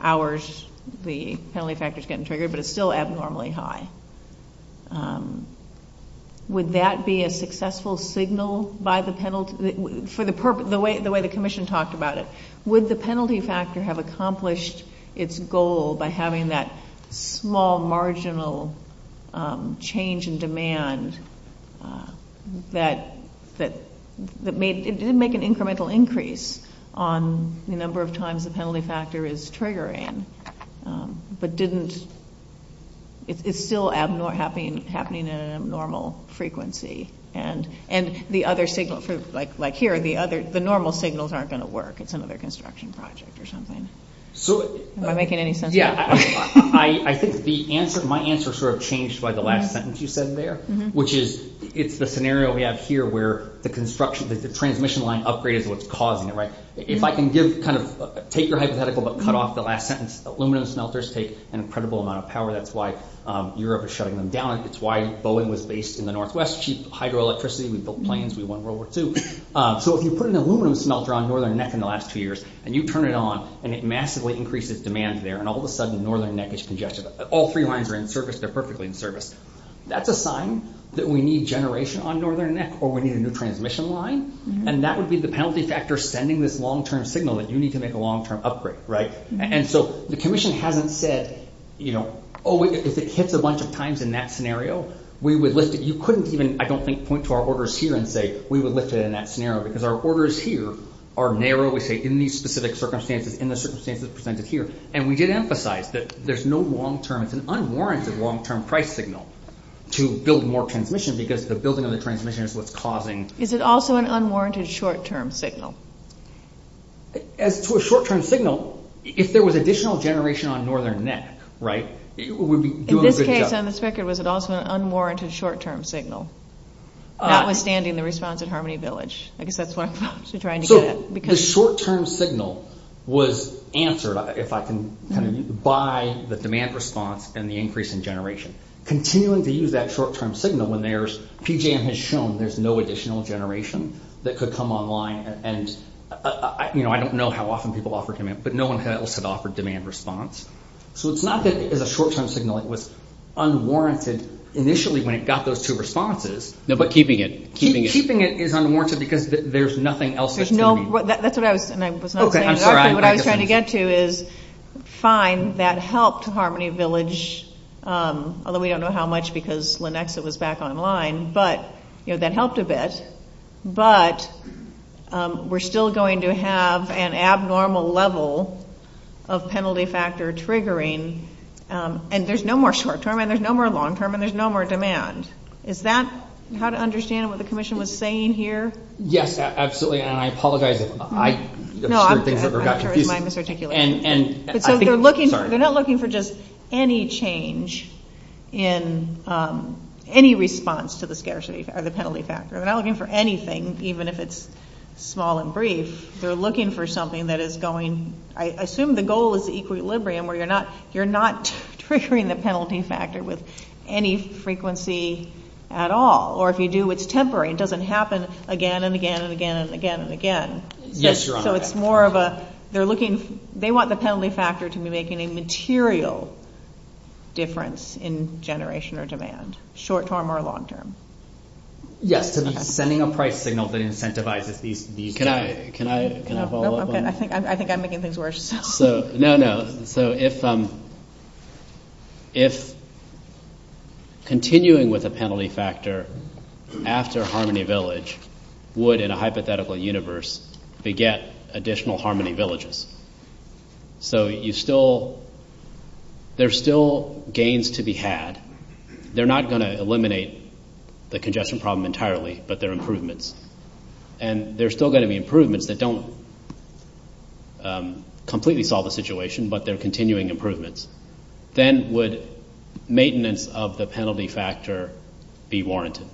hours, the penalty factor is getting triggered, but it's still abnormally high. Would that be a successful signal by the penalty, for the way the commission talked about it? Would the penalty factor have accomplished its goal by having that small marginal change in demand that made, it didn't make an incremental increase on the number of times the penalty factor is triggering, but didn't, it's still happening at an abnormal frequency. And the other signals, like here, the normal signals aren't going to work at some other construction project or something. Am I making any sense? Yeah. I think my answer sort of changed by the last sentence you said there, which is, it's the scenario we have here where the construction, the transmission line upgrade is what's causing it, right? If I can just kind of take your hypothetical but cut off the last sentence, aluminum smelters take an incredible amount of power, that's why Europe is shutting them down, that's why Boeing was based in the Northwest, cheap hydroelectricity, we built planes, we won World War II. So if you put an aluminum smelter on a northern neck in the last few years, and you turn it on, and it massively increases demand there, and all of a sudden northern neck is congested, all three lines are in service, they're perfectly in service, that's a sign that we need generation on northern neck, or we need a new transmission line, and that would be the penalty factor for sending this long-term signal that you need to make a long-term upgrade, right? And so the commission hasn't said, you know, oh wait, if it hits a bunch of times in that scenario, we would lift it. You couldn't even, I don't think, point to our orders here and say, we would lift it in that scenario, because our orders here are narrow, and so we say, in these specific circumstances, in the circumstances presented here, and we did emphasize that there's no long-term, it's an unwarranted long-term price signal to build more transmission, because the building of the transmission is what's causing. Is it also an unwarranted short-term signal? As to a short-term signal, if there was additional generation on northern neck, right, it would be doing a good job. In this case, on this record, was it also an unwarranted short-term signal, notwithstanding the response at Harmony Village? I guess that's what I'm trying to get at. The short-term signal was answered, if I can kind of, by the demand response and the increase in generation. Continuing to use that short-term signal when there's, PJ has shown there's no additional generation that could come online, and I don't know how often people offer demand, but no one else had offered demand response. So it's not that the short-term signal was unwarranted initially when it got those two responses. No, but keeping it. Keeping it is unwarranted because there's nothing else. There's no, that's what I was, and I was not, what I was trying to get to is, fine, that helped Harmony Village, although we don't know how much because Lenexa was back online, but, you know, that helped a bit, but we're still going to have an abnormal level of penalty factor triggering, and there's no more short-term and there's no more long-term and there's no more demand. Is that how to understand what the commission was saying here? Yes, absolutely, and I apologize. No, I'm sorry, my misarticulation. And, I think, sorry. They're not looking for just any change in any response to the scarcity or the penalty factor. They're not looking for anything, even if it's small and brief. They're looking for something that is going, I assume the goal is the equilibrium where you're not, you're not triggering the penalty factor with any frequency at all, or if you do, it's temporary. It doesn't happen again and again and again and again and again. Yes, Your Honor. So, it's more of a, they're looking, they want the penalty factor to be making a material difference in generation or demand, short-term or long-term. Yes, sending a price signal that incentivizes these. Can I, can I, can I follow up on that? I think I'm making things worse. So, no, no. So, if, if, continuing with a penalty factor after Harmony Village would, in a hypothetical universe, get additional Harmony Villages. So, you still, there's still gains to be had. They're not going to eliminate the congestion problem entirely, but they're improvements. And, there's still going to be improvements that don't completely solve the situation, but they're continuing improvements. Then, would maintenance of the penalty factor be warranted?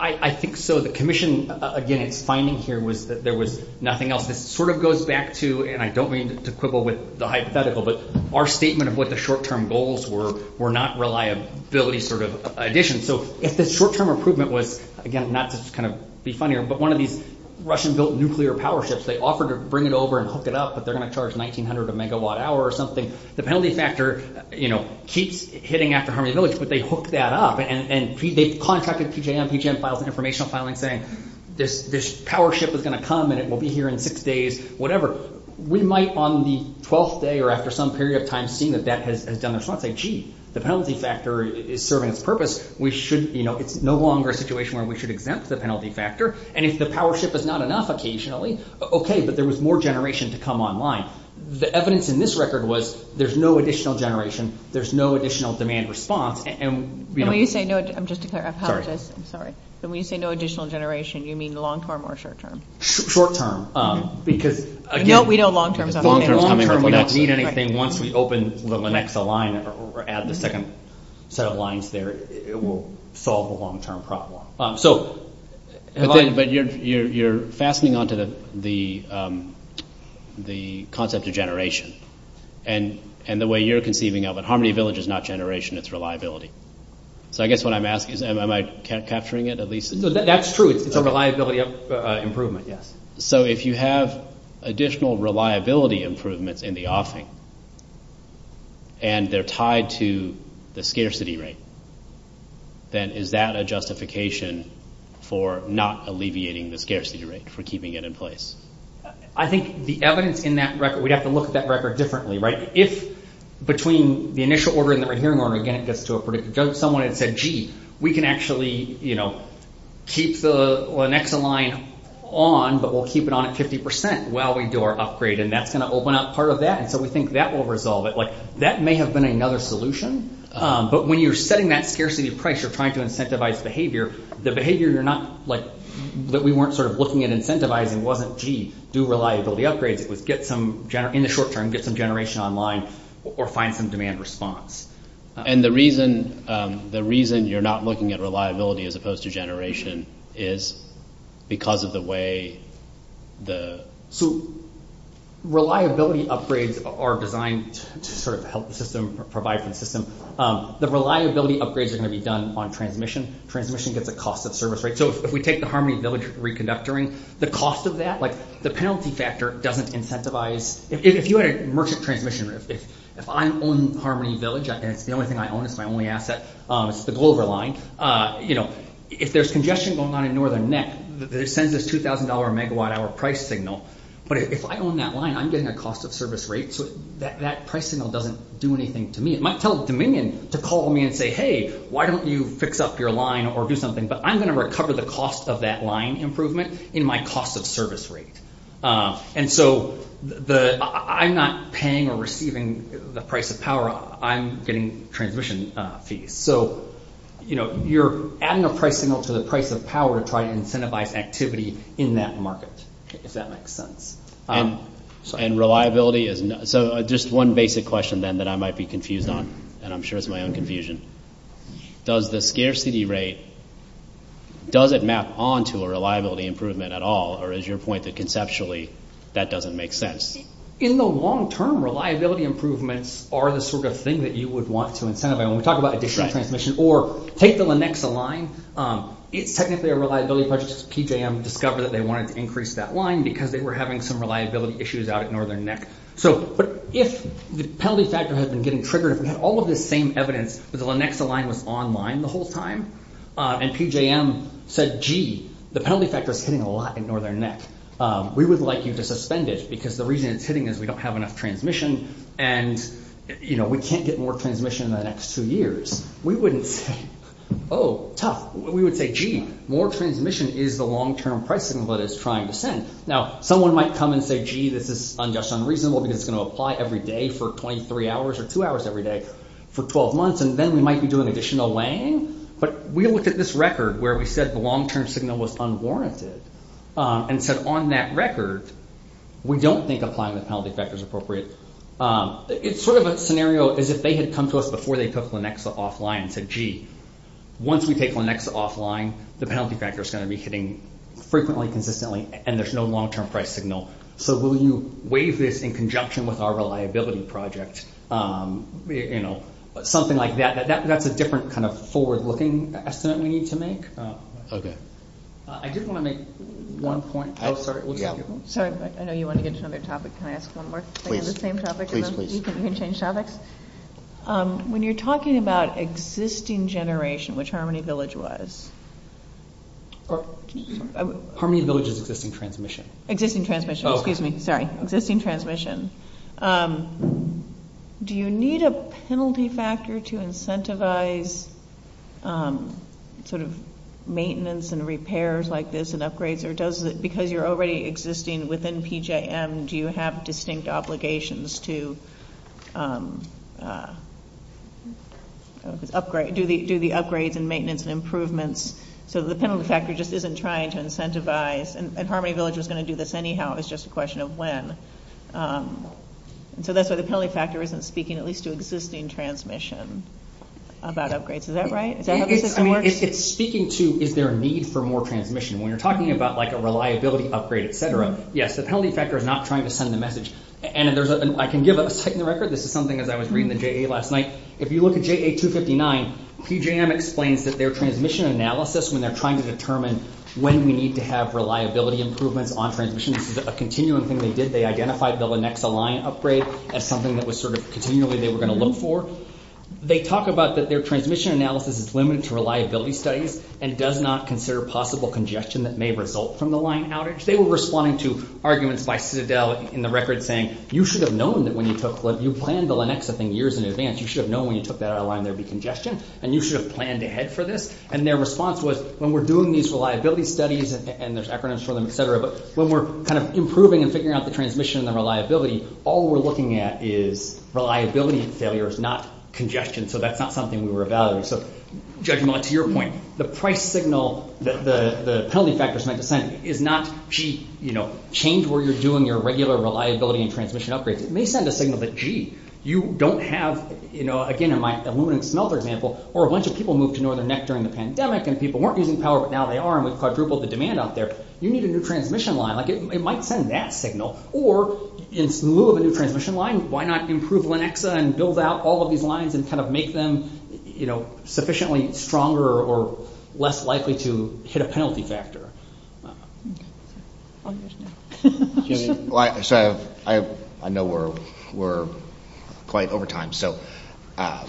I, I think so. The commission, again, it's finding here with, there was nothing else. It sort of goes back to, and I don't mean to quibble with the hypothetical, but our statement of what the short-term goals were, were not reliability sort of addition. So, if the short-term improvement was, again, not just kind of be funnier, but one of these Russian built nuclear power shifts, they offered to bring it over and hook it up, but they're going to charge 1,900 a megawatt hour or something. The penalty factor, you know, keeps hitting after Harmony Village, but they hooked that up, and they contracted PGM, PGM filed an informational filing saying, this power shift was going to come, and it will be here in six days, whatever. We might, on the 12th day, or after some period of time, seeing that that has done the front, say, gee, the penalty factor is serving its purpose. We should, you know, it's no longer a situation where we should exempt the penalty factor, and if the power shift is not enough occasionally, okay, but there was more generation to come online. Now, the evidence in this record was, there's no additional generation, there's no additional demand response, and, you know. When you say no, just to clarify, I apologize, I'm sorry. When you say no additional generation, you mean long term or short term? Short term, because, again, No, we don't long term. Long term, we don't need anything. Once we open the next line, or add the second set of lines there, it will solve a long term problem. So, but you're, you're, you're fastening onto the, the, the concept of generation, and, and the way you're conceiving of it, Harmony Village is not generation, it's reliability. So, I guess what I'm asking is, am I capturing it at least? That's true. It's a reliability improvement, yes. So, if you have additional reliability improvements in the offering, and they're tied to the scarcity rate, then is that a justification for not alleviating the scarcity rate, for keeping it in place? I think the evidence in that record, we'd have to look at that record differently, right? If, between the initial order and the rehearing order, again, just to a predictor, does someone have said, gee, we can actually, you know, keep the, or the next in line on, but we'll keep it on at 50%, while we do our upgrade, and that's gonna open up part of that, and so we think that will resolve it. Like, that may have been another solution, but when you're setting that scarcity price, you're trying to incentivize behavior. The behavior you're not, like, that we weren't sort of looking at incentivizing, wasn't, gee, do reliability upgrades. It was get some, in the short term, get some generation online, or find some demand response. And the reason, the reason you're not looking at reliability, as opposed to generation, is because of the way the, so, reliability upgrades are designed to sort of help the system, provide for the system. The reliability upgrades are gonna be done on transmission. Transmission gets the cost of service, right? So, if we take the Harmony Village reconductoring, the cost of that, like, the penalty factor doesn't incentivize, if you had a merchant transmission, if I own Harmony Village, and it's the only thing I own, it's my only asset, it's the Glover line, you know, if there's congestion going on in Northern Net, they send this $2,000 a megawatt hour price signal, but if I own that line, I'm getting a cost of service rate, so that price signal doesn't do anything to me. It might tell Dominion to call me and say, hey, why don't you fix up your line, or do something, but I'm gonna recover the cost of that line improvement in my cost of service rate. And so, I'm not paying or receiving the price of power, I'm getting transmission fees. So, you know, you're adding a price signal to the price of power to try to incentivize activity in that market, if that makes sense. And reliability, so just one basic question, then, that I might be confused on, and I'm sure it's my own confusion. Does the scarcity rate, does it map onto a reliability improvement, at all, or is your point that conceptually, that doesn't make sense? In the long term, reliability improvements are the sort of thing that you would want to incentivize. When we talk about additional transmission, or take the Lenexa line, it's technically a reliability, but PJM discovered that they wanted to increase that line, because they were having some reliability issues out at Northern NEC. So, but if the penalty factor has been getting triggered, if we had all of this same evidence, but the Lenexa line was online the whole time, and PJM said, gee, the penalty factor is hitting a lot at Northern NEC. We would like you to suspend it, because the reason it's hitting is, we don't have enough transmission, and, you know, we can't get more transmission in the next two years. We wouldn't say, oh, tough. We would say, gee, more transmission is the long term pricing, but it's trying to send. Now, someone might come and say, gee, this is just unreasonable, because it's going to apply every day, for .3 hours, or two hours every day, for 12 months, and then we might be doing additional laying, but we looked at this record, where we said the long term signal was unwarranted, and said, on that record, we don't think applying the penalty factor is appropriate. It's sort of a scenario, as if they had come to us, before they took Lenexa offline, and said, gee, once we take Lenexa offline, the penalty factor is going to be hitting, frequently, consistently, and there's no long term price signal. So, will you waive this, in conjunction with our reliability project? You know, something like that. That's a different kind of forward looking estimate, we need to make. Okay. I just want to make one point. Oh, sorry. I know you want to get to another topic, can I ask one more? Please, please, please. You can change topics. When you're talking about existing generation, which Harmony Village was, Harmony Village is existing transmission. Existing transmission, excuse me, sorry, existing transmission. Do you need a penalty factor, to incentivize, sort of, maintenance and repairs like this, and upgrades, or does it, because you're already existing within PJM, do you have distinct obligations to, do the upgrades and maintenance and improvements, so the penalty factor just isn't trying to incentivize, and Harmony Village is going to do this anyhow, it's just a question of when. So, that's why the penalty factor isn't speaking, at least to existing transmission, about upgrades, is that right? I mean, it's speaking to, is there a need for more transmission, when you're talking about like a reliability upgrade, et cetera, yes, the penalty factor is not trying to send the message, and there's, I can give a type in the record, this is something that I was reading in the JA last night, if you look at JA 259, PJM explains that their transmission analysis, when they're trying to determine, when we need to have reliability improvements, on transmission, this is a continuum thing they did, they identified the Lenexa line upgrade, as something that was sort of continually, they were going to look for, they talk about that their transmission analysis, is limited to reliability studies, and does not consider possible congestion, that may result from the line outage, they were responding to arguments by Citadel, in the record saying, you should have known that when you took, you planned the Lenexa thing years in advance, you should have known when you took that out of line, there'd be congestion, and you should have planned ahead for this, and their response was, when we're doing these reliability studies, and there's acronyms for them, et cetera, but when we're kind of improving, and figuring out the transmission, and the reliability, all we're looking at is, reliability failures, not congestion, so that's not something we were evaluating, so judging on to your point, the price signal, the penalty factors meant to send, is not, gee, change where you're doing, your regular reliability, and transmission upgrades, it may send a signal that, gee, you don't have, again in my aluminum smelter example, or a bunch of people moved to Northern Neck, during the pandemic, and people weren't using power, but now they are, and it's quadrupled the demand out there, you need a new transmission line, like it might send that signal, or in lieu of a new transmission line, why not improve Lenexa, and build out all of these lines, and kind of make them, you know, sufficiently stronger, or less likely to hit a penalty factor, so I know we're quite over time, so I'm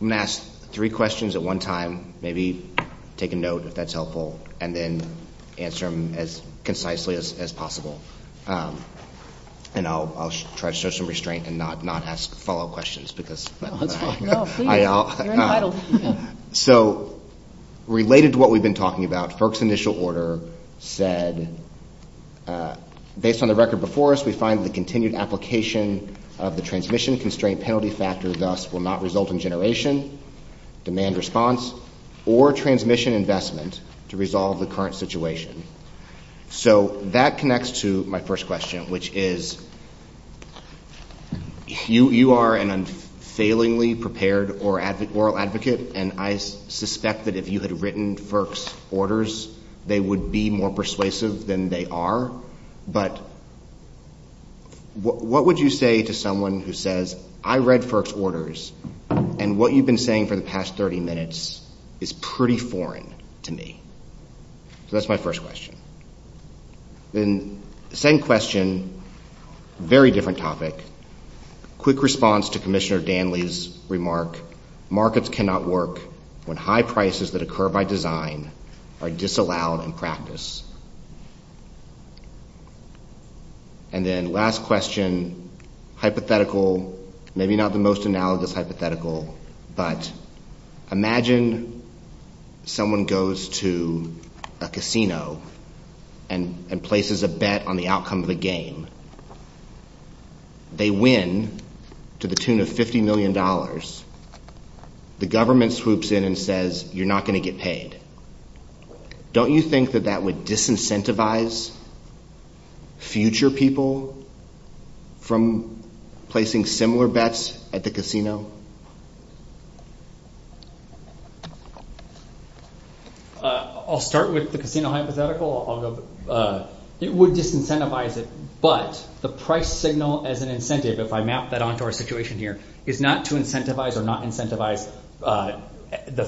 going to ask three questions at one time, maybe take a note if that's helpful, and then answer them as concisely as possible, and I'll try to show some restraint, and not ask follow-up questions, so related to what we've been talking about, FERC's initial order said, based on the record before us, we find the continued application, of the transmission constraint penalty factors, thus will not result in generation, demand response, or transmission investment, to resolve the current situation, so that connects to my first question, which is, you are an unfailingly prepared oral advocate, and I suspect that if you had written FERC's orders, they would be more persuasive than they are, but what would you say to someone who says, I read FERC's orders, and what you've been saying for the past 30 minutes, is pretty foreign to me, so that's my first question, then the second question, very different topic, quick response to Commissioner Danley's remark, markets cannot work, when high prices that occur by design, are disallowed in practice, and then last question, hypothetical, maybe not the most analogous hypothetical, but imagine, imagine someone goes to a casino, and places a bet on the outcome of the game, they win, to the tune of $50 million, the government swoops in and says, you're not going to get paid, don't you think that that would disincentivize, future people, from placing similar bets at the casino? I'll start with the casino hypothetical, it would disincentivize it, but the price signal as an incentive, if I map that onto our situation here, is not to incentivize or not incentivize, the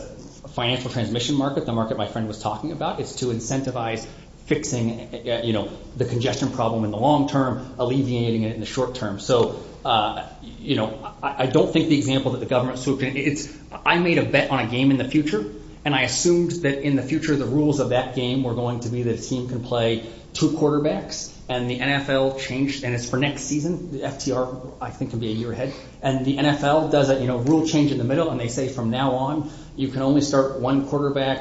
financial transmission market, the market my friend was talking about, is to incentivize fixing, the congestion problem in the long term, alleviating it in the short term, so I don't think the example that the government swoops in, I made a bet on a game in the future, and I assumed that in the future, the rules of that game were going to be, the team can play two quarterbacks, and the NFL changed, and it's for next season, the FDR I think will be a year ahead, and the NFL does a rule change in the middle, and they say from now on, you can only start one quarterback,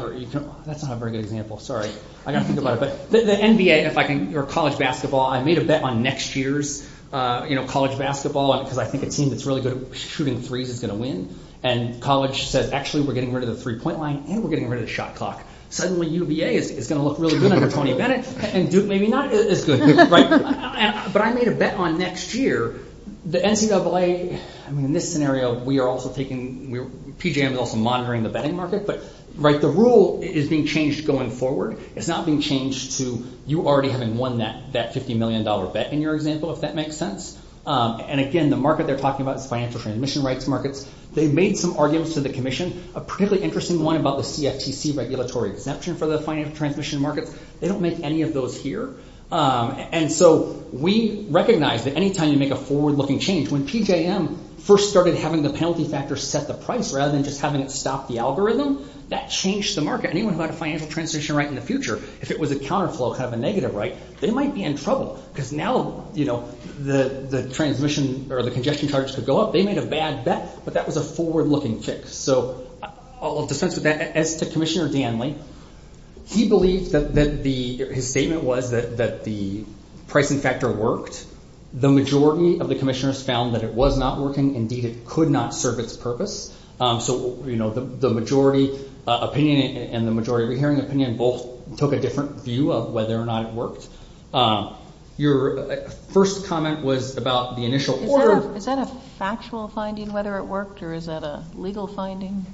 that's not a very good example, the NBA, if I can, college basketball, I made a bet on next year's college basketball, because I think a team that's really good at shooting threes, is going to win, and college says, actually we're getting rid of the three point line, and we're getting rid of the shot clock, suddenly UVA is going to look really good, under Tony Bennett, and maybe not as good, but I made a bet on next year, the NCAA, in this scenario, we are also taking, PGA is also monitoring the betting market, the rule is being changed going forward, it's not being changed to, you already having won that 50 million dollar bet, in your example, if that makes sense, and again, the market they're talking about, the financial transmission rights market, they made some arguments to the commission, a pretty interesting one, about the CFTC regulatory, for the financial transmission market, they don't make any of those here, and so we recognize, that any time you make a forward looking change, when TJM first started having the penalty factor, set the price, rather than just having it stop the algorithm, that changed the market, anyone who had a financial transmission right, in the future, if it was a counter flow, kind of a negative right, they might be in trouble, because now, the transmission, or the congestion charge could go up, they made a bad bet, but that was a forward looking fix, so, I'll defend to that, as the commissioner Dan Link, he believed that the, his statement was, that the pricing factor worked, the majority of the commissioners found, that it was not working, indeed it could not serve its purpose, so, you know, the majority opinion, and the majority hearing opinion, both took a different view, of whether or not it worked, your first comment was, about the initial order, is that a factual finding, whether it worked, or is that a legal finding,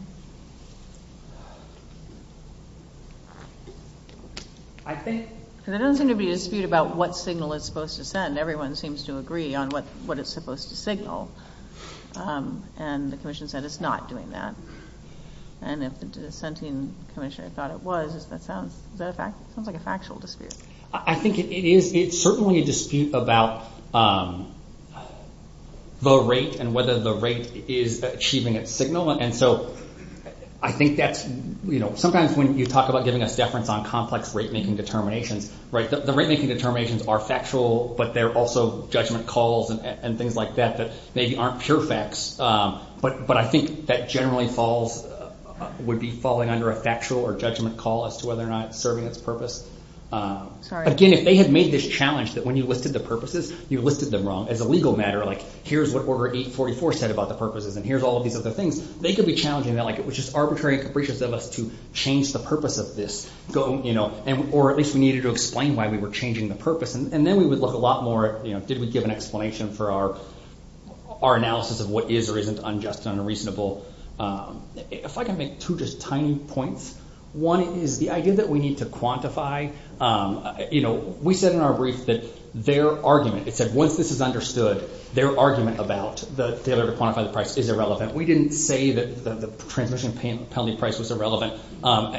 I think, there doesn't seem to be a dispute, about what signal it's supposed to send, everyone seems to agree, on what it's supposed to signal, and the commission said, that it's not doing that, and if the dissenting commission, thought it was, that sounds like a factual dispute, I think it is, it's certainly a dispute, about the rate, and whether the rate, is achieving a signal, and so, I think that's, you know, sometimes when you talk, about getting a deference, on complex rate making determination, right, the rate making determinations, are factual, but they're also judgment calls, and things like that, that maybe aren't pure facts, but I think, that generally falls, would be falling, under a factual, or judgment call, as to whether or not, serving its purpose, again, if they had made this challenge, that when you lifted the purposes, you lifted them wrong, as a legal matter, like here's what order 844, said about the purposes, and here's all these other things, they could be challenging that, like it was just arbitrary, and capricious of us, to change the purpose of this, you know, or at least we needed to explain, why we were changing the purpose, and then we would look, a lot more, you know, did we give an explanation, for our analysis, of what is, or isn't unjust, and unreasonable, if I can make two, just tiny points, one is, the idea, that we need to quantify, you know, we said in our brief, that their argument, it said, once this is understood, their argument, about the failure, to quantify the price, is irrelevant, we didn't say, that the transmission, penalty price,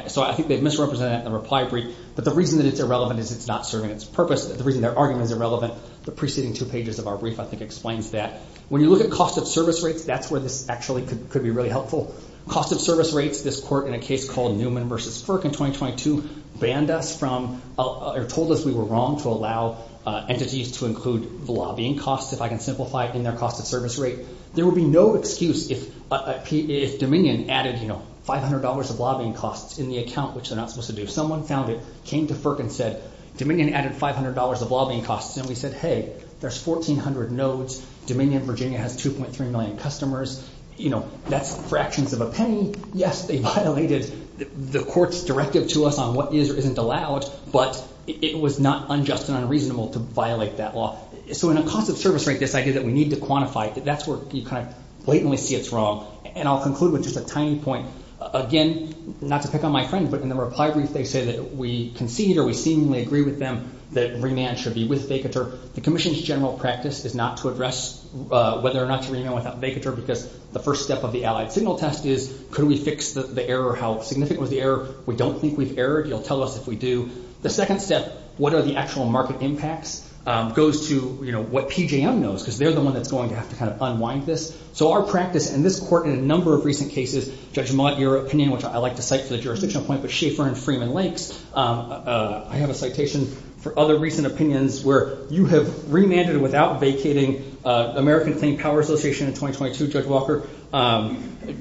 so I think, they misrepresented that, in the reply brief, but the reason, that it's irrelevant, is it's not serving its purpose, the reason their argument, is irrelevant, the preceding two pages, of our brief, I think explains that, when you look, at cost of service rates, that's where this actually, could be really helpful, cost of service rates, this court, in a case called, Newman versus Firk, in 2022, banned us from, or told us, we were wrong, to allow entities, to include lobbying costs, if I can simplify it, in their cost of service rate, there would be no excuse, if Dominion added, you know, $500 of lobbying costs, in the account, which they're not, supposed to do, someone found it, came to Firk and said, Dominion added $500, of lobbying costs, and we said, hey, there's 1,400 nodes, Dominion Virginia, has 2.3 million customers, you know, that's fractions of a penny, yes, they violated, the court's directive to us, on what is, or isn't allowed, but, it was not unjust, and unreasonable, to violate that law, so in a cost of service rate, this idea, that we need to quantify, that's where you kind of, blatantly see it's wrong, and I'll conclude, with just a tiny point, again, not to pick on my friends, but in the reply brief, they say that, we concede, or we seemingly agree, with them, that remand should be, with Vacater, the commission's general practice, is not to address, whether or not to remand, without Vacater, because the first step, of the allied signal test is, could we fix the error, or how significant was the error, we don't think we've errored, you'll tell us if we do, the second step, what are the actual, market impacts, goes to, you know, what PJM knows, because they're the one, that's going to have to kind of, unwind this, so our practice, and this court, in a number of recent cases, Judge Mod, your opinion, which I like to cite, as a jurisdictional point, for Schaefer, and Freeman Lake, I have a citation, for other recent opinions, where you have remanded, without vacating, American Pain Power Association, in 2022, Judge Walker,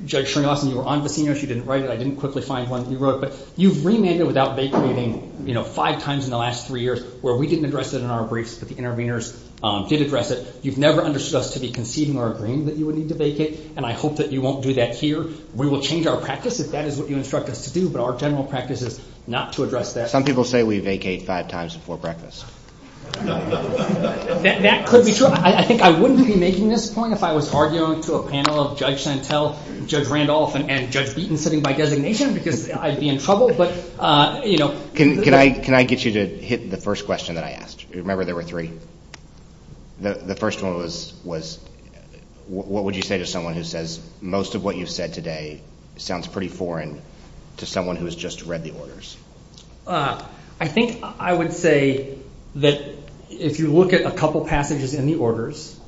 Judge Chernoff, and you were on with, you know, she didn't write it, I didn't quickly find one, you wrote it, but you've remanded, without vacating, you know, five times in the last three years, where we didn't address it, in our briefs, but the interveners, did address it, you've never understood us, to be conceding, or agreeing, that you would need to vacate, and I hope, that you won't do that here, we will change our practice, if that is what, you instruct us to do, but our general practice, is not to address that. Some people say, we vacate five times, before breakfast. That could be true, I think I wouldn't be, making this point, if I was arguing, to a panel, of Judge Chantel, Judge Randolph, and Judge Beaton, sitting by designation, because I'd be in trouble, but you know. Can I get you, to hit the first question, that I asked, remember there were three, the first one was, what would you say, to someone who says, most of what you said today, sounds pretty foreign, to someone who's just, read the orders. I think I would say, that if you look at, a couple of passages, in the orders,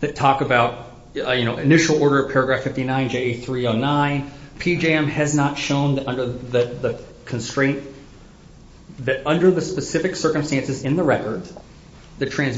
that talk about, initial order, paragraph 59, J 309, PJM has not shown, that under the constraint, that under the specific, and it's not, achieving its intended purpose,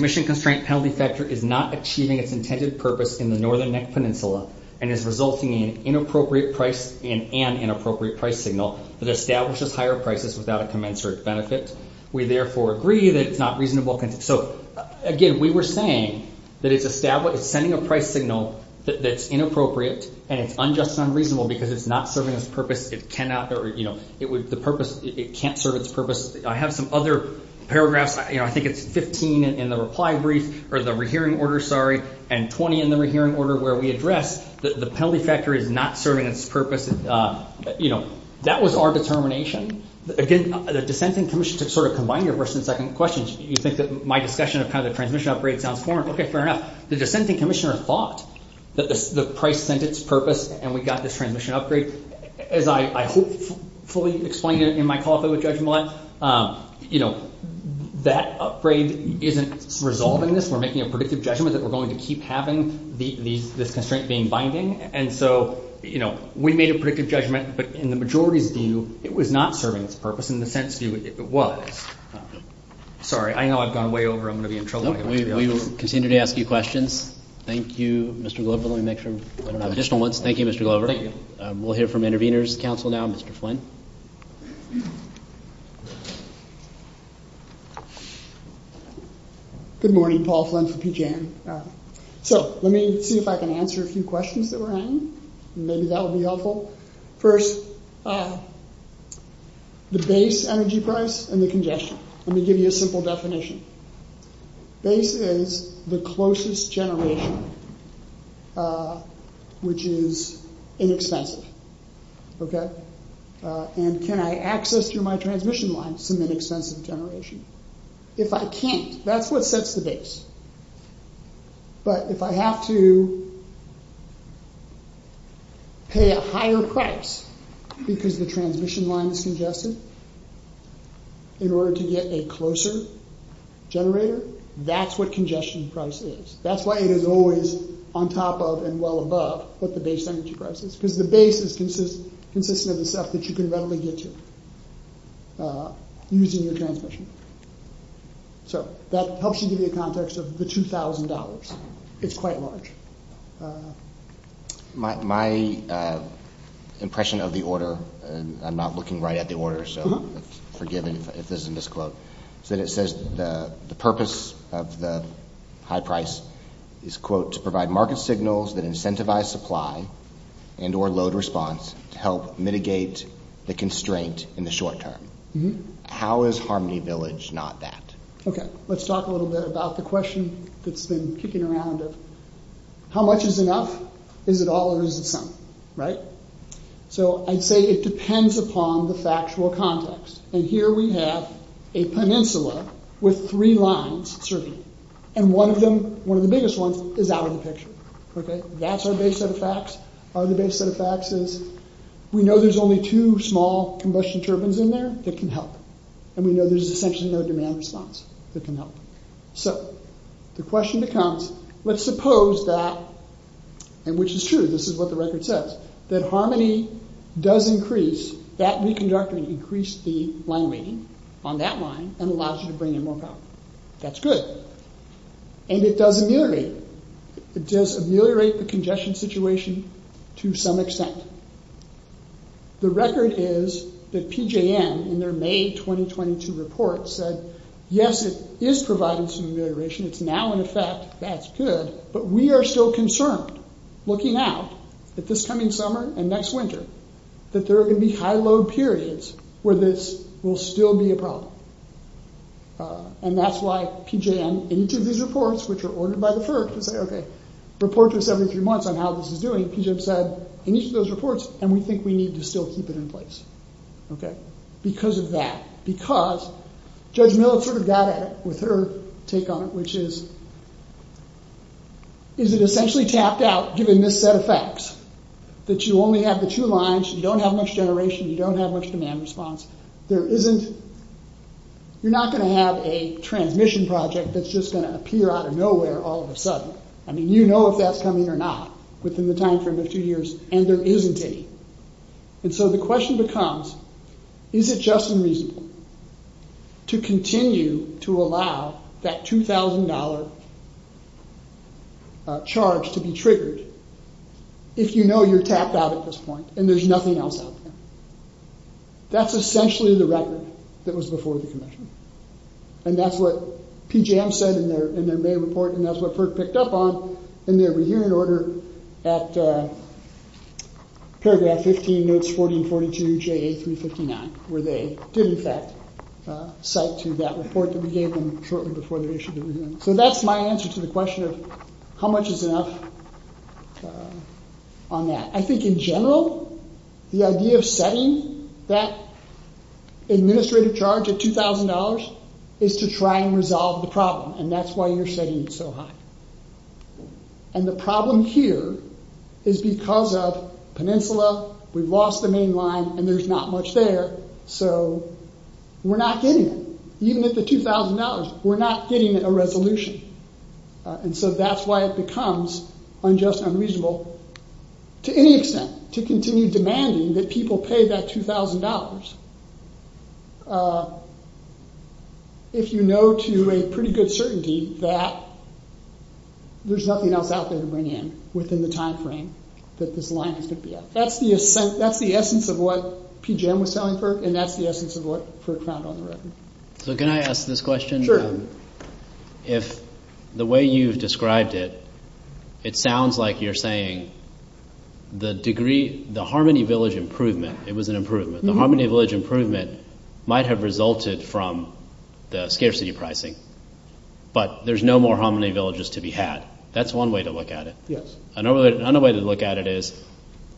in the Northern Neck Peninsula, and it's not, achieving its intended purpose, in the Northern Neck Peninsula, and it's not, it is resulting, in an inappropriate price, and an inappropriate, price signal, that establishes, higher prices, without a commensurate benefit, we therefore agree, that it's not reasonable, so again, we were saying, that it's established, sending a price signal, that's inappropriate, and it's unjust, and unreasonable, because it's not, serving its purpose, it cannot, or you know, it would, the purpose, it can't serve its purpose, I have some other, paragraphs, I think it's 15, in the reply brief, or the rehearing order, sorry, and 20, in the rehearing order, where we address, that the penalty factor, is not serving, its purpose, you know, that was our determination, again, the dissenting commission, to sort of combine, your first and second questions, you think that my discussion, of how the transmission upgrade, sounds foreign, okay fair enough, the dissenting commissioner, thought, that the price, sent its purpose, and we got this, transmission upgrade, as I hope, fully explained it, in my call, with Judge Millet, you know, that upgrade, isn't resolving this, we're making, a predictive judgment, that we're going, to keep having, this constraint, being binding, and so, you know, we made a predictive judgment, but in the majority view, it was not serving, its purpose, in the sense view, it was, sorry, I know I've gone way over, I'm going to be in trouble, we will continue, to ask you questions, thank you Mr. Glover, let me make sure, additional ones, thank you Mr. Glover, we'll hear from the, intervenors counsel now, Mr. Flynn, good morning, Paul Flynn, so, let me see, if I can answer, a few questions, that were on you, maybe that would be helpful, first, the base energy price, and the congestion, let me give you, a simple definition, base is, the closest generation, which is, inexpensive, okay, and can I access, through my transmission line, some inexpensive generation, if I can, that's what sets the base, but if I have to, pay a higher price, because the transmission line, is congested, in order to get a closer, generator, that's what congestion price is, that's why it is always, on top of, and well above, what the base energy price is, because the base is, consistent with the stuff, and what the base energy, is, is the base energy, is the base energy, is the base energy, is the base energy, is the base energy, is the base energy, which is the total, of the $2,000, is quite large. My impression of the order, and I'm not looking right at, the order so, forgive me if there's a misquote, the purpose of the high price, is quote, to provide market signals, that incentivize supply, and or load response, to help mitigate, the constraint in the short term, how is Harmony Village not that, okay, let's talk a little bit, about the question, that's been kicking around, of how much is enough, is it all or is it some, right, so I'd say it depends, upon the factual context, and here we have, a peninsula, with three lines, certainly, and one of them, one of the biggest ones, is out of the picture, okay, that's our base set of facts, out of the base set of facts, is we know there's only two, small combustion turbines in there, that can help, and we know there's essentially, no demand response, that can help, so the question becomes, let's suppose that, and which is true, this is what the record says, that Harmony does increase, that new conductor, increased the line rating, on that line, and allows you to bring in, more power, that's good, and it does ameliorate, it does ameliorate, the congestion situation, to some extent, the record is, that PJM, in their May 2022 report, said, yes, it is providing some amelioration, it's now in effect, that's good, but we are still concerned, looking out, that this coming summer, and next winter, that there are going to be, high load periods, where this will still be a problem, and that's why PJM, in each of these reports, which are ordered by the Turks, okay, report to us every few months, on how this is doing, PJM said, in each of those reports, and we think we need, to still keep it in place, okay, because of that, because, Judge Miller sort of got it, with her take on it, which is, is it essentially tapped out, given this set of facts, that you only have the two lines, you don't have much generation, you don't have much demand response, there isn't, you're not going to have, a transmission project, that's just going to appear, out of nowhere, all of a sudden, I mean, you know if that's coming or not, within the timeframe of two years, and there isn't any, and so the question becomes, is it just unreasonable, to continue to allow, that $2,000, charge to be triggered, if you know you're tapped out at this point, and there's nothing else out there, that's essentially the record, that was before the commission, and that's what PJM said, in their May report, and that's what FERC picked up on, in their review and order, at paragraph 15, page 1442, JA359, where they, did in fact, cite to that report, that we gave them, shortly before the issue, so that's my answer, to the question of, how much is enough, on that, I think in general, the idea of setting, that administrative charge, of $2,000, is to try and resolve the problem, and that's why you're setting it so high, and the problem here, is because of, peninsula, we've lost the main line, and there's not much there, so, we're not getting it, even at the $2,000, we're not getting a resolution, and so that's why it becomes, unjust and unreasonable, to any extent, to continue demanding, that people pay that $2,000, if you know to a pretty good certainty, that, there's nothing else out there to bring in, within the time frame, that this line is going to be up, that's the essence of what, PGM was selling for, and that's the essence of what, FERC found on the record. So can I ask this question? Sure. If, the way you've described it, it sounds like you're saying, the degree, the Harmony Village improvement, it was an improvement, the Harmony Village improvement, might have resulted from, the scarcity pricing, but there's no more Harmony Villages to be had, that's one way to look at it, another way to look at it is,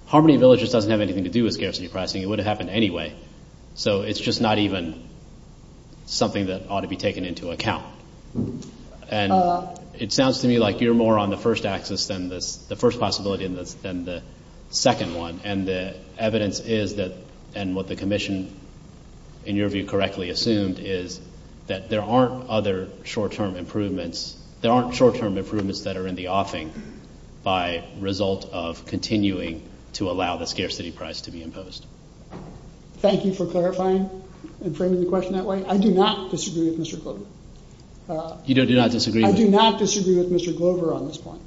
Harmony Villages doesn't have anything to do with, scarcity pricing, it would have happened anyway, so it's just not even, something that ought to be taken into account, and, it sounds to me like you're more on the first axis, than the first possibility, than the second one, and the evidence is that, and what the commission, in your view correctly assumed is, that there aren't other short term improvements, there aren't short term improvements, that are in the offing, by result of continuing, to allow the scarcity price to be imposed. Thank you for clarifying, and framing the question that way, I do not disagree with Mr. Glover, I do not disagree with Mr. Glover on this point, I do not disagree with Mr. Glover on this point,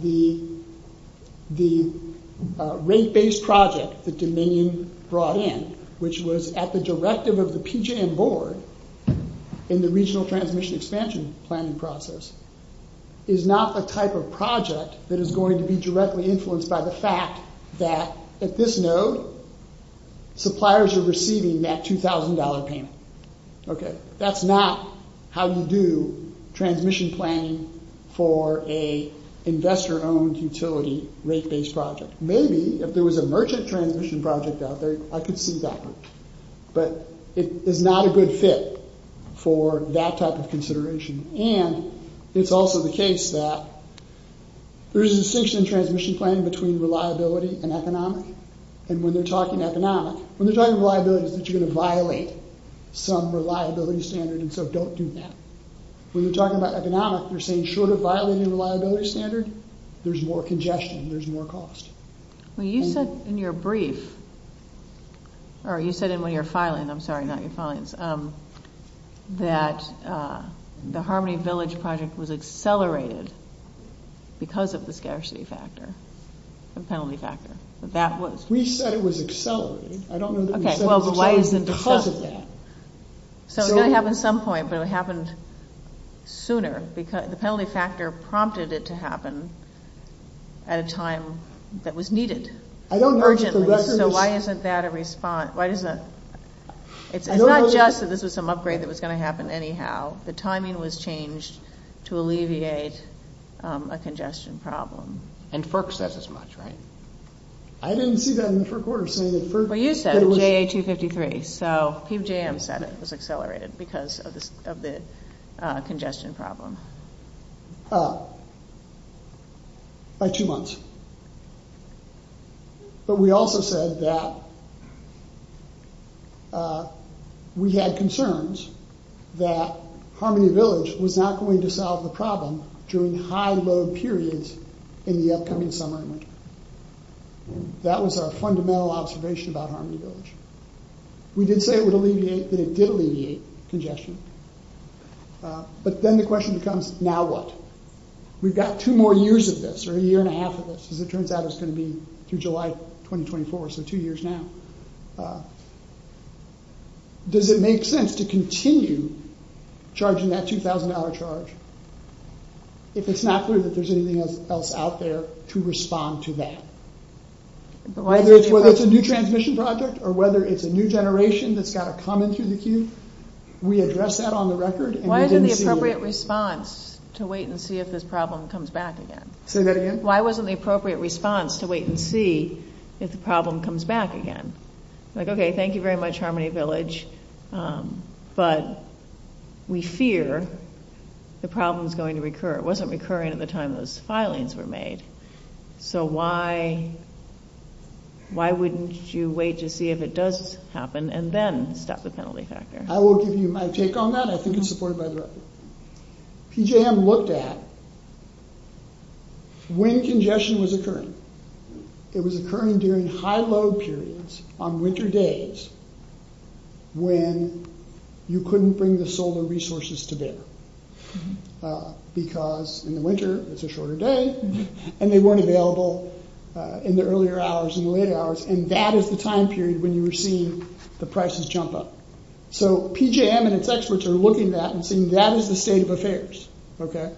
the, the, the rate based project, that Dominion brought in, which was at the directive of the PGM board, in the regional transformation expansion, planning process, is not the type of project, that is going to be directly influenced by the fact, that at this node, suppliers are receiving that $2,000 payment. Okay, that's not, how you do, transmission planning, for a, investor owned utility, rate based project. Maybe, if there was a merchant transition project out there, I could see that, but, it is not a good fit, for that type of consideration, and, it's also the case that, there's a distinction in transmission planning, between reliability and economic, and when they're talking economic, when they're talking reliability, it's that you're going to violate, some reliability standard, and so don't do that. When you're talking about economic, you're saying, should I violate a reliability standard? There's more congestion, there's more cost. When you said in your brief, or you said in your filing, I'm sorry, not your filings, that, the Harmony Village project, was accelerated, because of the scarcity factor, the penalty factor, that was. We said it was accelerating, I don't know that we said it was accelerating. Okay, so why isn't it because of that? So, it's going to happen at some point, but it happened, sooner, because the penalty factor, prompted it to happen, at a time, that was needed, urgently. So, why isn't that a response, why doesn't that, it's not just, that this was some upgrade, that was going to happen, anyhow, the timing was changed, to alleviate, a congestion problem. And FERC says it's much, right? I didn't see that in FERC words, I mean, FERC said it was. Well, you said, GA 253, so, PBJM said it was accelerated, because of the, congestion problem. Uh, by two months. But, we also said, that, uh, we had concerns, that, Harmony Village, was not going to solve the problem, during high, low periods, in the upcoming summer. That was our fundamental observation, about Harmony Village. We did say it would alleviate, that it did alleviate, congestion. Uh, but then the question becomes, now what? We've got two more years of this, or a year and a half of this, because it turns out it's going to be, through July 2024, so two years now. Uh, does it make sense, to continue, charging that $2,000 charge, if it's not true, that there's anything else out there, to respond to that? Whether it's a new transmission project, or whether it's a new generation, that's got to come into the queue, we addressed that on the record, and we didn't see the... Why isn't the appropriate response, to wait and see, if this problem comes back again? Say that again? Why wasn't the appropriate response, to wait and see, if the problem comes back again? Like, okay, thank you very much, Harmony Village, um, but, we fear, the problem's going to recur. It wasn't recurring, at the time those filings were made, so why, why wouldn't you wait, to see if it does happen, and then, set the penalty factor? I will give you my take on that, I think it's supported by the record. PJM looked at, when congestion was occurring. It was occurring during high load periods, on winter days, when, you couldn't bring the solar resources, to there. Because, in the winter, it's a shorter day, and they weren't available, in the earlier hours, and the later hours, and that is the time period, when you receive, the prices jump up. So, PJM and its experts, are looking at that, and saying, that is the state of affairs. Okay?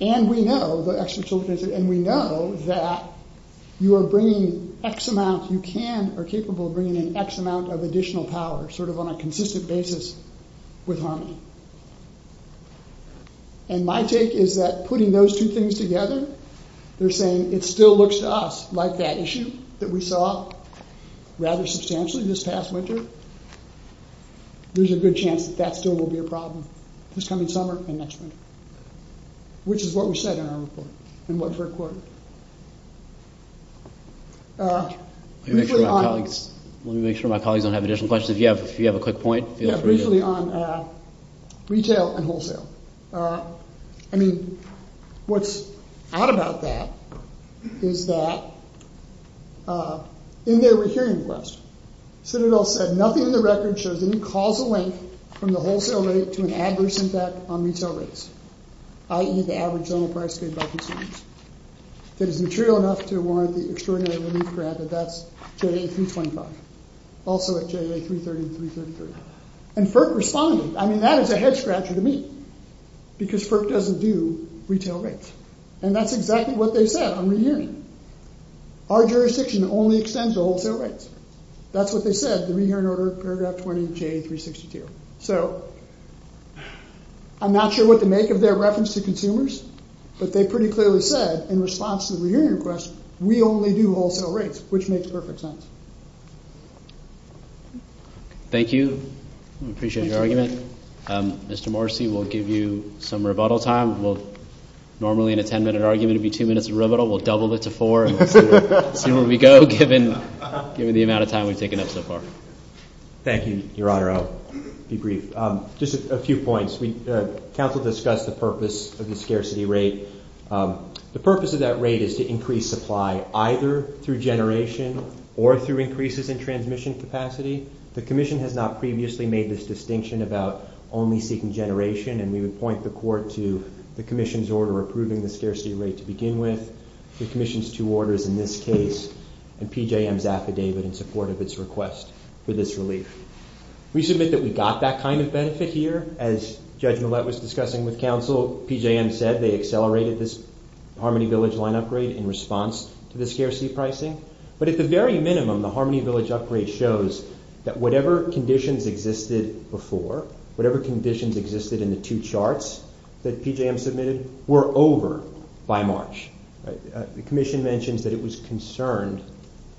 And we know, the experts will say, and we know, that, you are bringing, X amounts you can, are capable of bringing, X amount of additional power, sort of on a consistent basis, with Harmony. And my take is that, putting those two things together, they're saying, it still looks to us, like that issue, that we saw, rather substantially, this past winter. There's a good chance, that still will be a problem, this coming summer, and next winter. Which is what we said, in our report, and what's our quote. Let me make sure, my colleagues don't have, additional questions. Yeah, if you have a quick point. Yeah, briefly on, retail and wholesale. I mean, what's odd about that, is that, in their return request, Citadel said, nothing in the record, shows any causal link, from the wholesale rate, to an average impact, on these surveys. I.e., the average total price, paid by consumers. That is material enough, to warrant the extraordinary, limit grab, that that's, JA325. Also, at JA330, 333. And, FERC responded. I mean, that is a head-scratcher, to me. Because, FERC doesn't do, retail rates. And, that's exactly, what they said, on the union. Our jurisdiction, only extends, the wholesale rates. That's what they said, to be here in order, paragraph 20, of JA362. So, I'm not sure, what the make, of their reference, to consumers. But, they pretty clearly said, in response, to the union request, we only do, wholesale rates. Which, makes perfect sense. Thank you. We appreciate, your argument. Mr. Morrissey, we'll give you, some rebuttal time. We'll, normally, in a ten minute argument, it would be two minutes, of rebuttal. We'll double it, to four, and see where we go, given the amount of time, we've taken up so far. Thank you, Your Honor, I'll, be brief. Just a few points. We, counsel discussed, the purpose, of the scarcity rate. The purpose of that rate, is to increase supply, either, through generation, or through increases, in transmission capacity. The commission, has not previously, made this distinction, about, only seeking generation. And, we would point the court, to the commission's order, approving the scarcity rate, to begin with. The commission's two orders, in this case, and PJM's affidavit, in support of its request, for this relief. We submit, that we got that kind of benefit, here, as, Judge Millett was discussing, with counsel. PJM said, they accelerated this, Harmony Village 1 upgrade, in response, to the scarcity pricing. But, at the very minimum, the Harmony Village upgrade, shows, that whatever conditions, existed before, whatever conditions, existed in the two charts, that PJM submitted, were over, by March. The commission mentions, that it was concerned,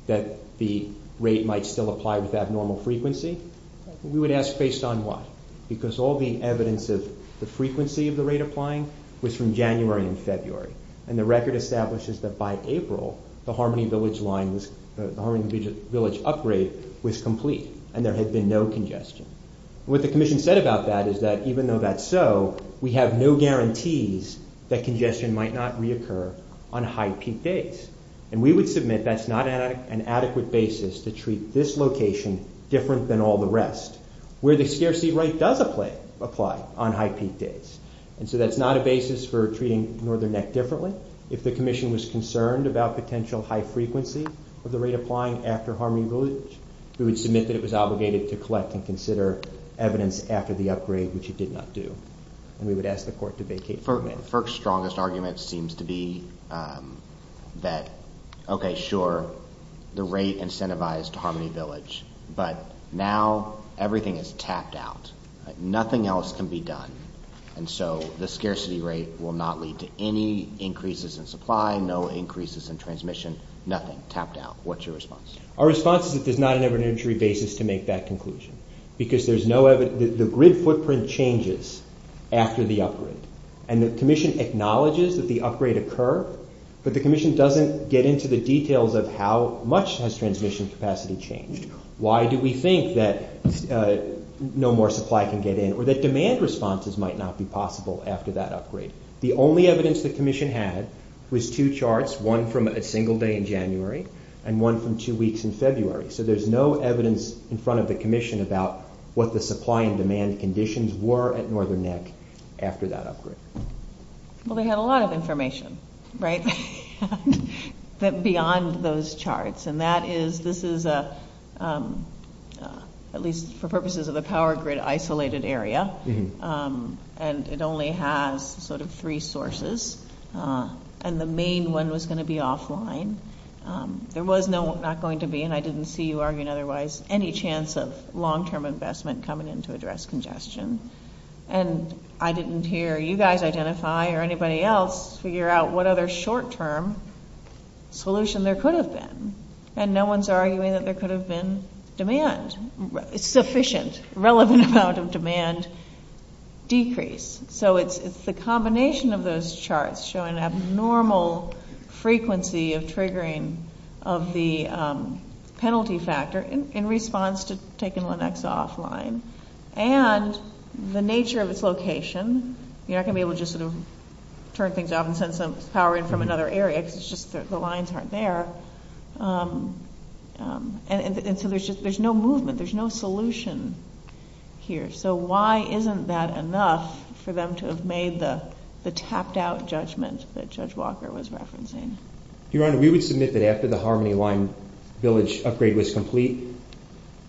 that the rate, might still apply, with that normal frequency. We would ask, based on what? Because, all the evidence, of the frequency, of the rate applying, was from January, and February. And, the record establishes, that by April, the Harmony Village line, was, the Harmony Village upgrade, was complete. And, there had been no congestion. What the commission said, about that, is that, even though that's so, we have no guarantees, that congestion, might not reoccur, on high peak days. And, we would submit, that's not an adequate basis, to treat this location, different, than all the rest. Where the scarcity rate, does apply, on high peak days. And so, that's not a basis, for treating Northern Neck, differently. If the commission was concerned, about potential, high frequencies, of the rate applying, after Harmony Village, we would submit, that it was obligated, to collect, and consider evidence, after the upgrade, which it did not do. And, we would ask the court, to vacate the case. FERC's strongest argument, seems to be, that, okay, sure, the rate incentivized, to Harmony Village. But, now, everything is tapped out. Nothing else, can be done. And so, the scarcity rate, will not lead, to any increases, in supply, no increases, in transmission, nothing, tapped out. What's your response? Our response is, that there's not an evidentiary basis, to make that conclusion. Because, there's no evidence, the grid footprint changes, after the upgrade. And, the commission acknowledges, that the upgrade occurred, but the commission doesn't, get into the details, of how much, transmission capacity, changed. Why do we think, that, no more supply, can get in? Or, that demand responses, might not be possible, after that upgrade. The only evidence, the commission had, was two charts, one from a single day, in January, and one from two weeks, in February. So, there's no evidence, in front of the commission, about, what the supply, and demand conditions, were at Northern Neck, after that upgrade. Well, they had a lot of information, right? That beyond, those charts. And, that is, this is a, at least, for purposes of a power grid, isolated area. And, it only has, sort of, three sources. And, the main one, was going to be offline. There was no, not going to be, and I didn't see you, arguing otherwise, any chance of, long term investment, coming in, to address congestion. And, I didn't hear, you guys identify, or anybody else, figure out, what other short term, solution, there could have been. And, no one's arguing, that there could have been, demand. It's sufficient, relevant amount of demand, decreased. So, it's the combination, of those charts, showing abnormal, frequency, of triggering, of the, penalty factor, in response, to taking, Lenexa offline. And, the nature, of its location, you're not going to be able, to just sort of, turn things out, and send some power in, from another area, because it's just, the lines aren't there. And, so there's just, there's no movement, there's no solution, here. So, why isn't that, enough, for them to have made, the tapped out, judgments, that Judge Walker, was referencing? Your Honor, we would submit, that after the Harmony Line, Village upgrade was complete,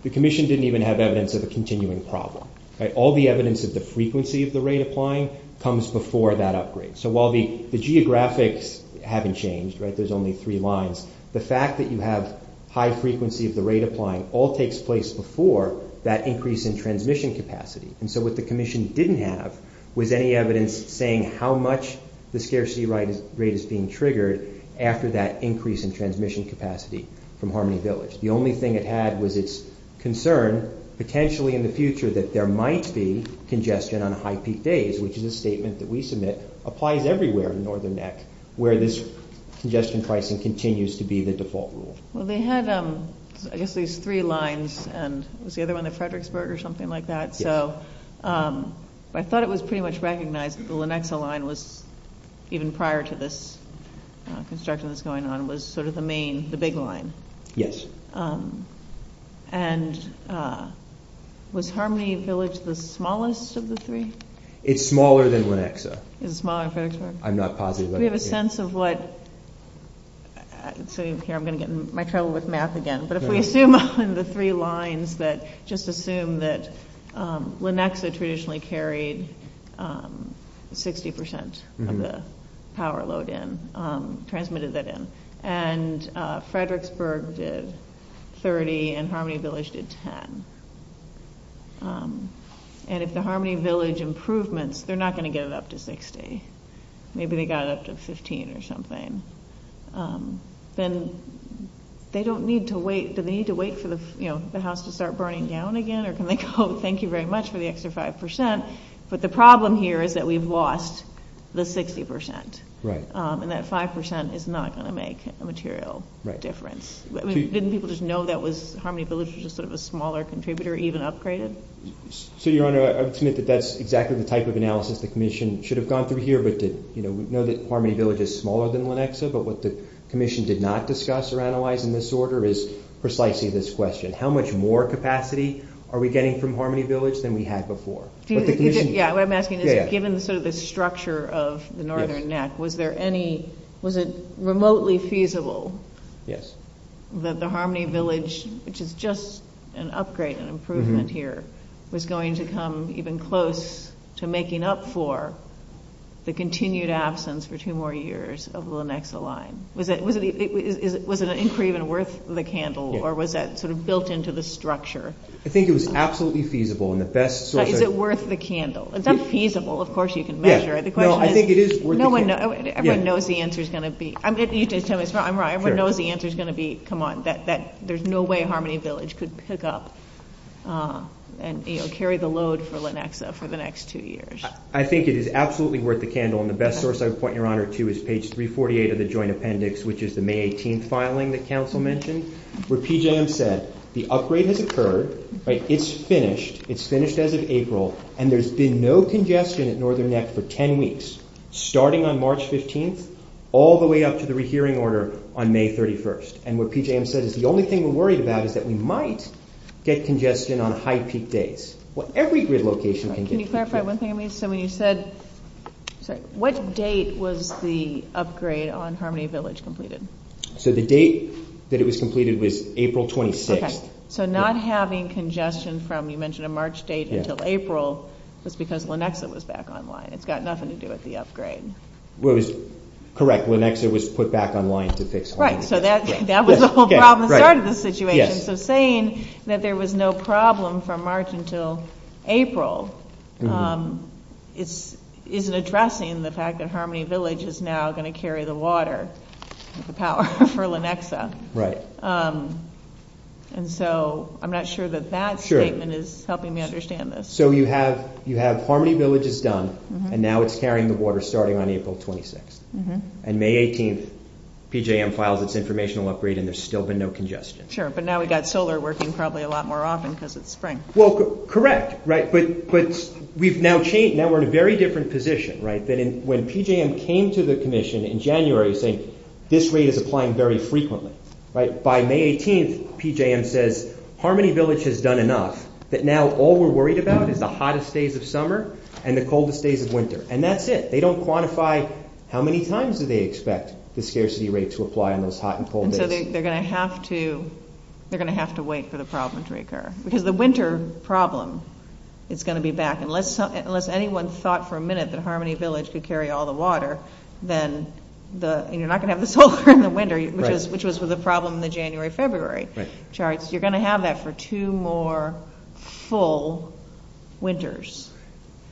the Commission didn't even, have evidence, of a continuing problem. All the evidence, of the frequency, of the rate applying, comes before that upgrade. So, while the, the geographics, haven't changed, right, because there's only, three lines, the fact that you have, high frequency, of the rate applying, all takes place before, that increase, in transmission capacity. And, so what the Commission, didn't have, was any evidence, saying how much, the scarcity rate, is being triggered, after that increase, in transmission capacity, from Harmony Village. The only thing it had, was it's concern, potentially in the future, that there might be, congestion on high peak days, which is a statement, that we submit, applies everywhere, in Northern Neck, where this congestion, pricing continues, to be the default rule. Well, they had, I guess, these three lines, and, was the other one, the Fredericksburg, or something like that, so, I thought it was, pretty much recognized, that the Lenexa line, was, even prior to this, construction that's going on, was sort of the main, the big line. Yes. And, was Harmony Village, the smallest, of the three? It's smaller, than Lenexa. It's smaller, than Fredericksburg? I'm not positive, that it is. We have a sense, of what, so, here, I'm going to get, in my trouble with math, again, but if we assume, on the three lines, that, just assume, that, Lenexa, traditionally carried, 60%, of the, power load in, transmitted it in, and, Fredericksburg did, 30, and Harmony Village, did 10. And, if the Harmony Village, improvements, they're not going to get it, up to 60. Maybe they got it, up to 15, or something. Then, they don't need to wait, do they need to wait, for the, you know, the house to start, burning down again, or can they go, thank you very much, for the extra 5%, but the problem here, is that we've lost, the 60%. Right. And that 5%, is not going to make, a material, difference. Didn't people just know, that was Harmony Village, was just sort of, a smaller contributor, even upgraded? So, Your Honor, I would submit, that that's exactly, the type of analysis, the Commission, should have gone through here, but did, you know, we know that Harmony Village, is smaller than Lenexa, but what the Commission, did not discuss, or analyze in this order, is precisely this question. How much more capacity, are we getting from Harmony Village, than we had before? Yeah, I'm asking, given sort of the structure, of the Northern Neck, was there any, was it, remotely feasible? Yes. That the Harmony Village, which is just, an upgrade, an improvement here, was going to come, even closer, to making up for, the continued absence, for two more years, of the Lenexa line? Was it, was it, was it an increment, worth the candle, or was that sort of, built into the structure? I think it was, absolutely feasible, and the best sort of, Is it worth the candle? If that's feasible, of course you can measure it, the question is, No, I think it is worth the candle. No one knows, everyone knows the answer, is going to be, I'm right, everyone knows the answer, is going to be, come on, that there's no way, Harmony Village could pick up, and you know, carry the load, for Lenexa, for the next two years. I think it is, absolutely worth the candle, and the best source, I would point your honor to, is page 348, of the joint appendix, which is the May 18th filing, that council mentioned, where PJM said, the upgrade has occurred, right, it's finished, it's finished as of April, and there's been no congestion, at Northern Neck, for 10 weeks, starting on March 15th, all the way up, to the rehearing order, on May 31st, and where PJM said, is the only thing, we're worried about, is that we might, get congestion, on high peak days, well every relocation, can get congestion. Can you clarify one thing, you said, sorry, what date, was the upgrade, on Harmony Village, completed? So the date, that it was completed, was April 26th. Okay, so not having, congestion from, you mentioned a March date, until April, that's because Lenexa, was back online, it's got nothing to do, with the upgrade. Correct, Lenexa was put back online, to fix. Right, so that was the whole problem, part of the situation, so saying, that there was no problem, from March until April, isn't addressing, the fact that, Harmony Village, is now going to carry, the water, the power, for Lenexa. Right. And so, I'm not sure, that that statement, is helping me understand this. So you have, Harmony Village is done, and now it's carrying the water, starting on April 26th, and May 18th, PJM files it's information, there's still been, no congestion. Sure, but now we got solar, working probably, a lot more often, because it's spreading, and it's causing, congestion. Well, correct, right, but, we've now changed, now we're in a very, different position, right, than when PJM, came to the commission, in January, saying, this rate is applying, very frequently, right, by May 18th, PJM says, Harmony Village has done enough, that now all we're worried about, is the hottest days of summer, and the coldest days of winter, and that's it, they don't quantify, how many times do they expect, the scarcity rates, will apply on those hot, and cold days. And so, they're going to have to, they're going to have to wait, for the problems to occur, because the winter problem, is going to be back, unless, anyone thought for a minute, that Harmony Village, could carry all the water, then, you're not going to have, this whole kind of winter, which was the problem, in the January, February charts, you're going to have that, for two more, full winters.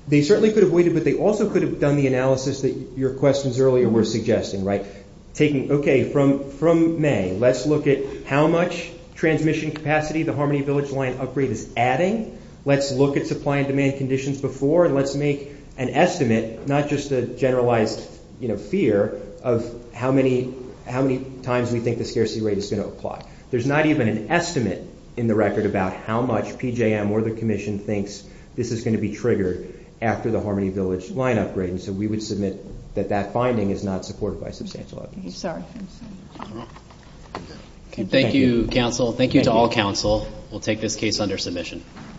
They certainly, could have waited, but they also, could have done the analysis, that your questions earlier, were suggesting, right, taking, okay, from May, let's look at, how much, transmission capacity, the Harmony Village line, upgrade is adding, let's look at, supply and demand conditions, before, and let's make, an estimate, not just the generalized, you know, fear, of how many, how many times, we think the scarcity rate, is going to apply. There's not even, an estimate, in the record, about how much PJM, or their commission thinks, this is going to be triggered, after the Harmony Village, line upgrade. And so, we would submit, that that finding, is not supported, by substantial. Okay, thank you, counsel. Thank you, to all counsel. We'll take this case,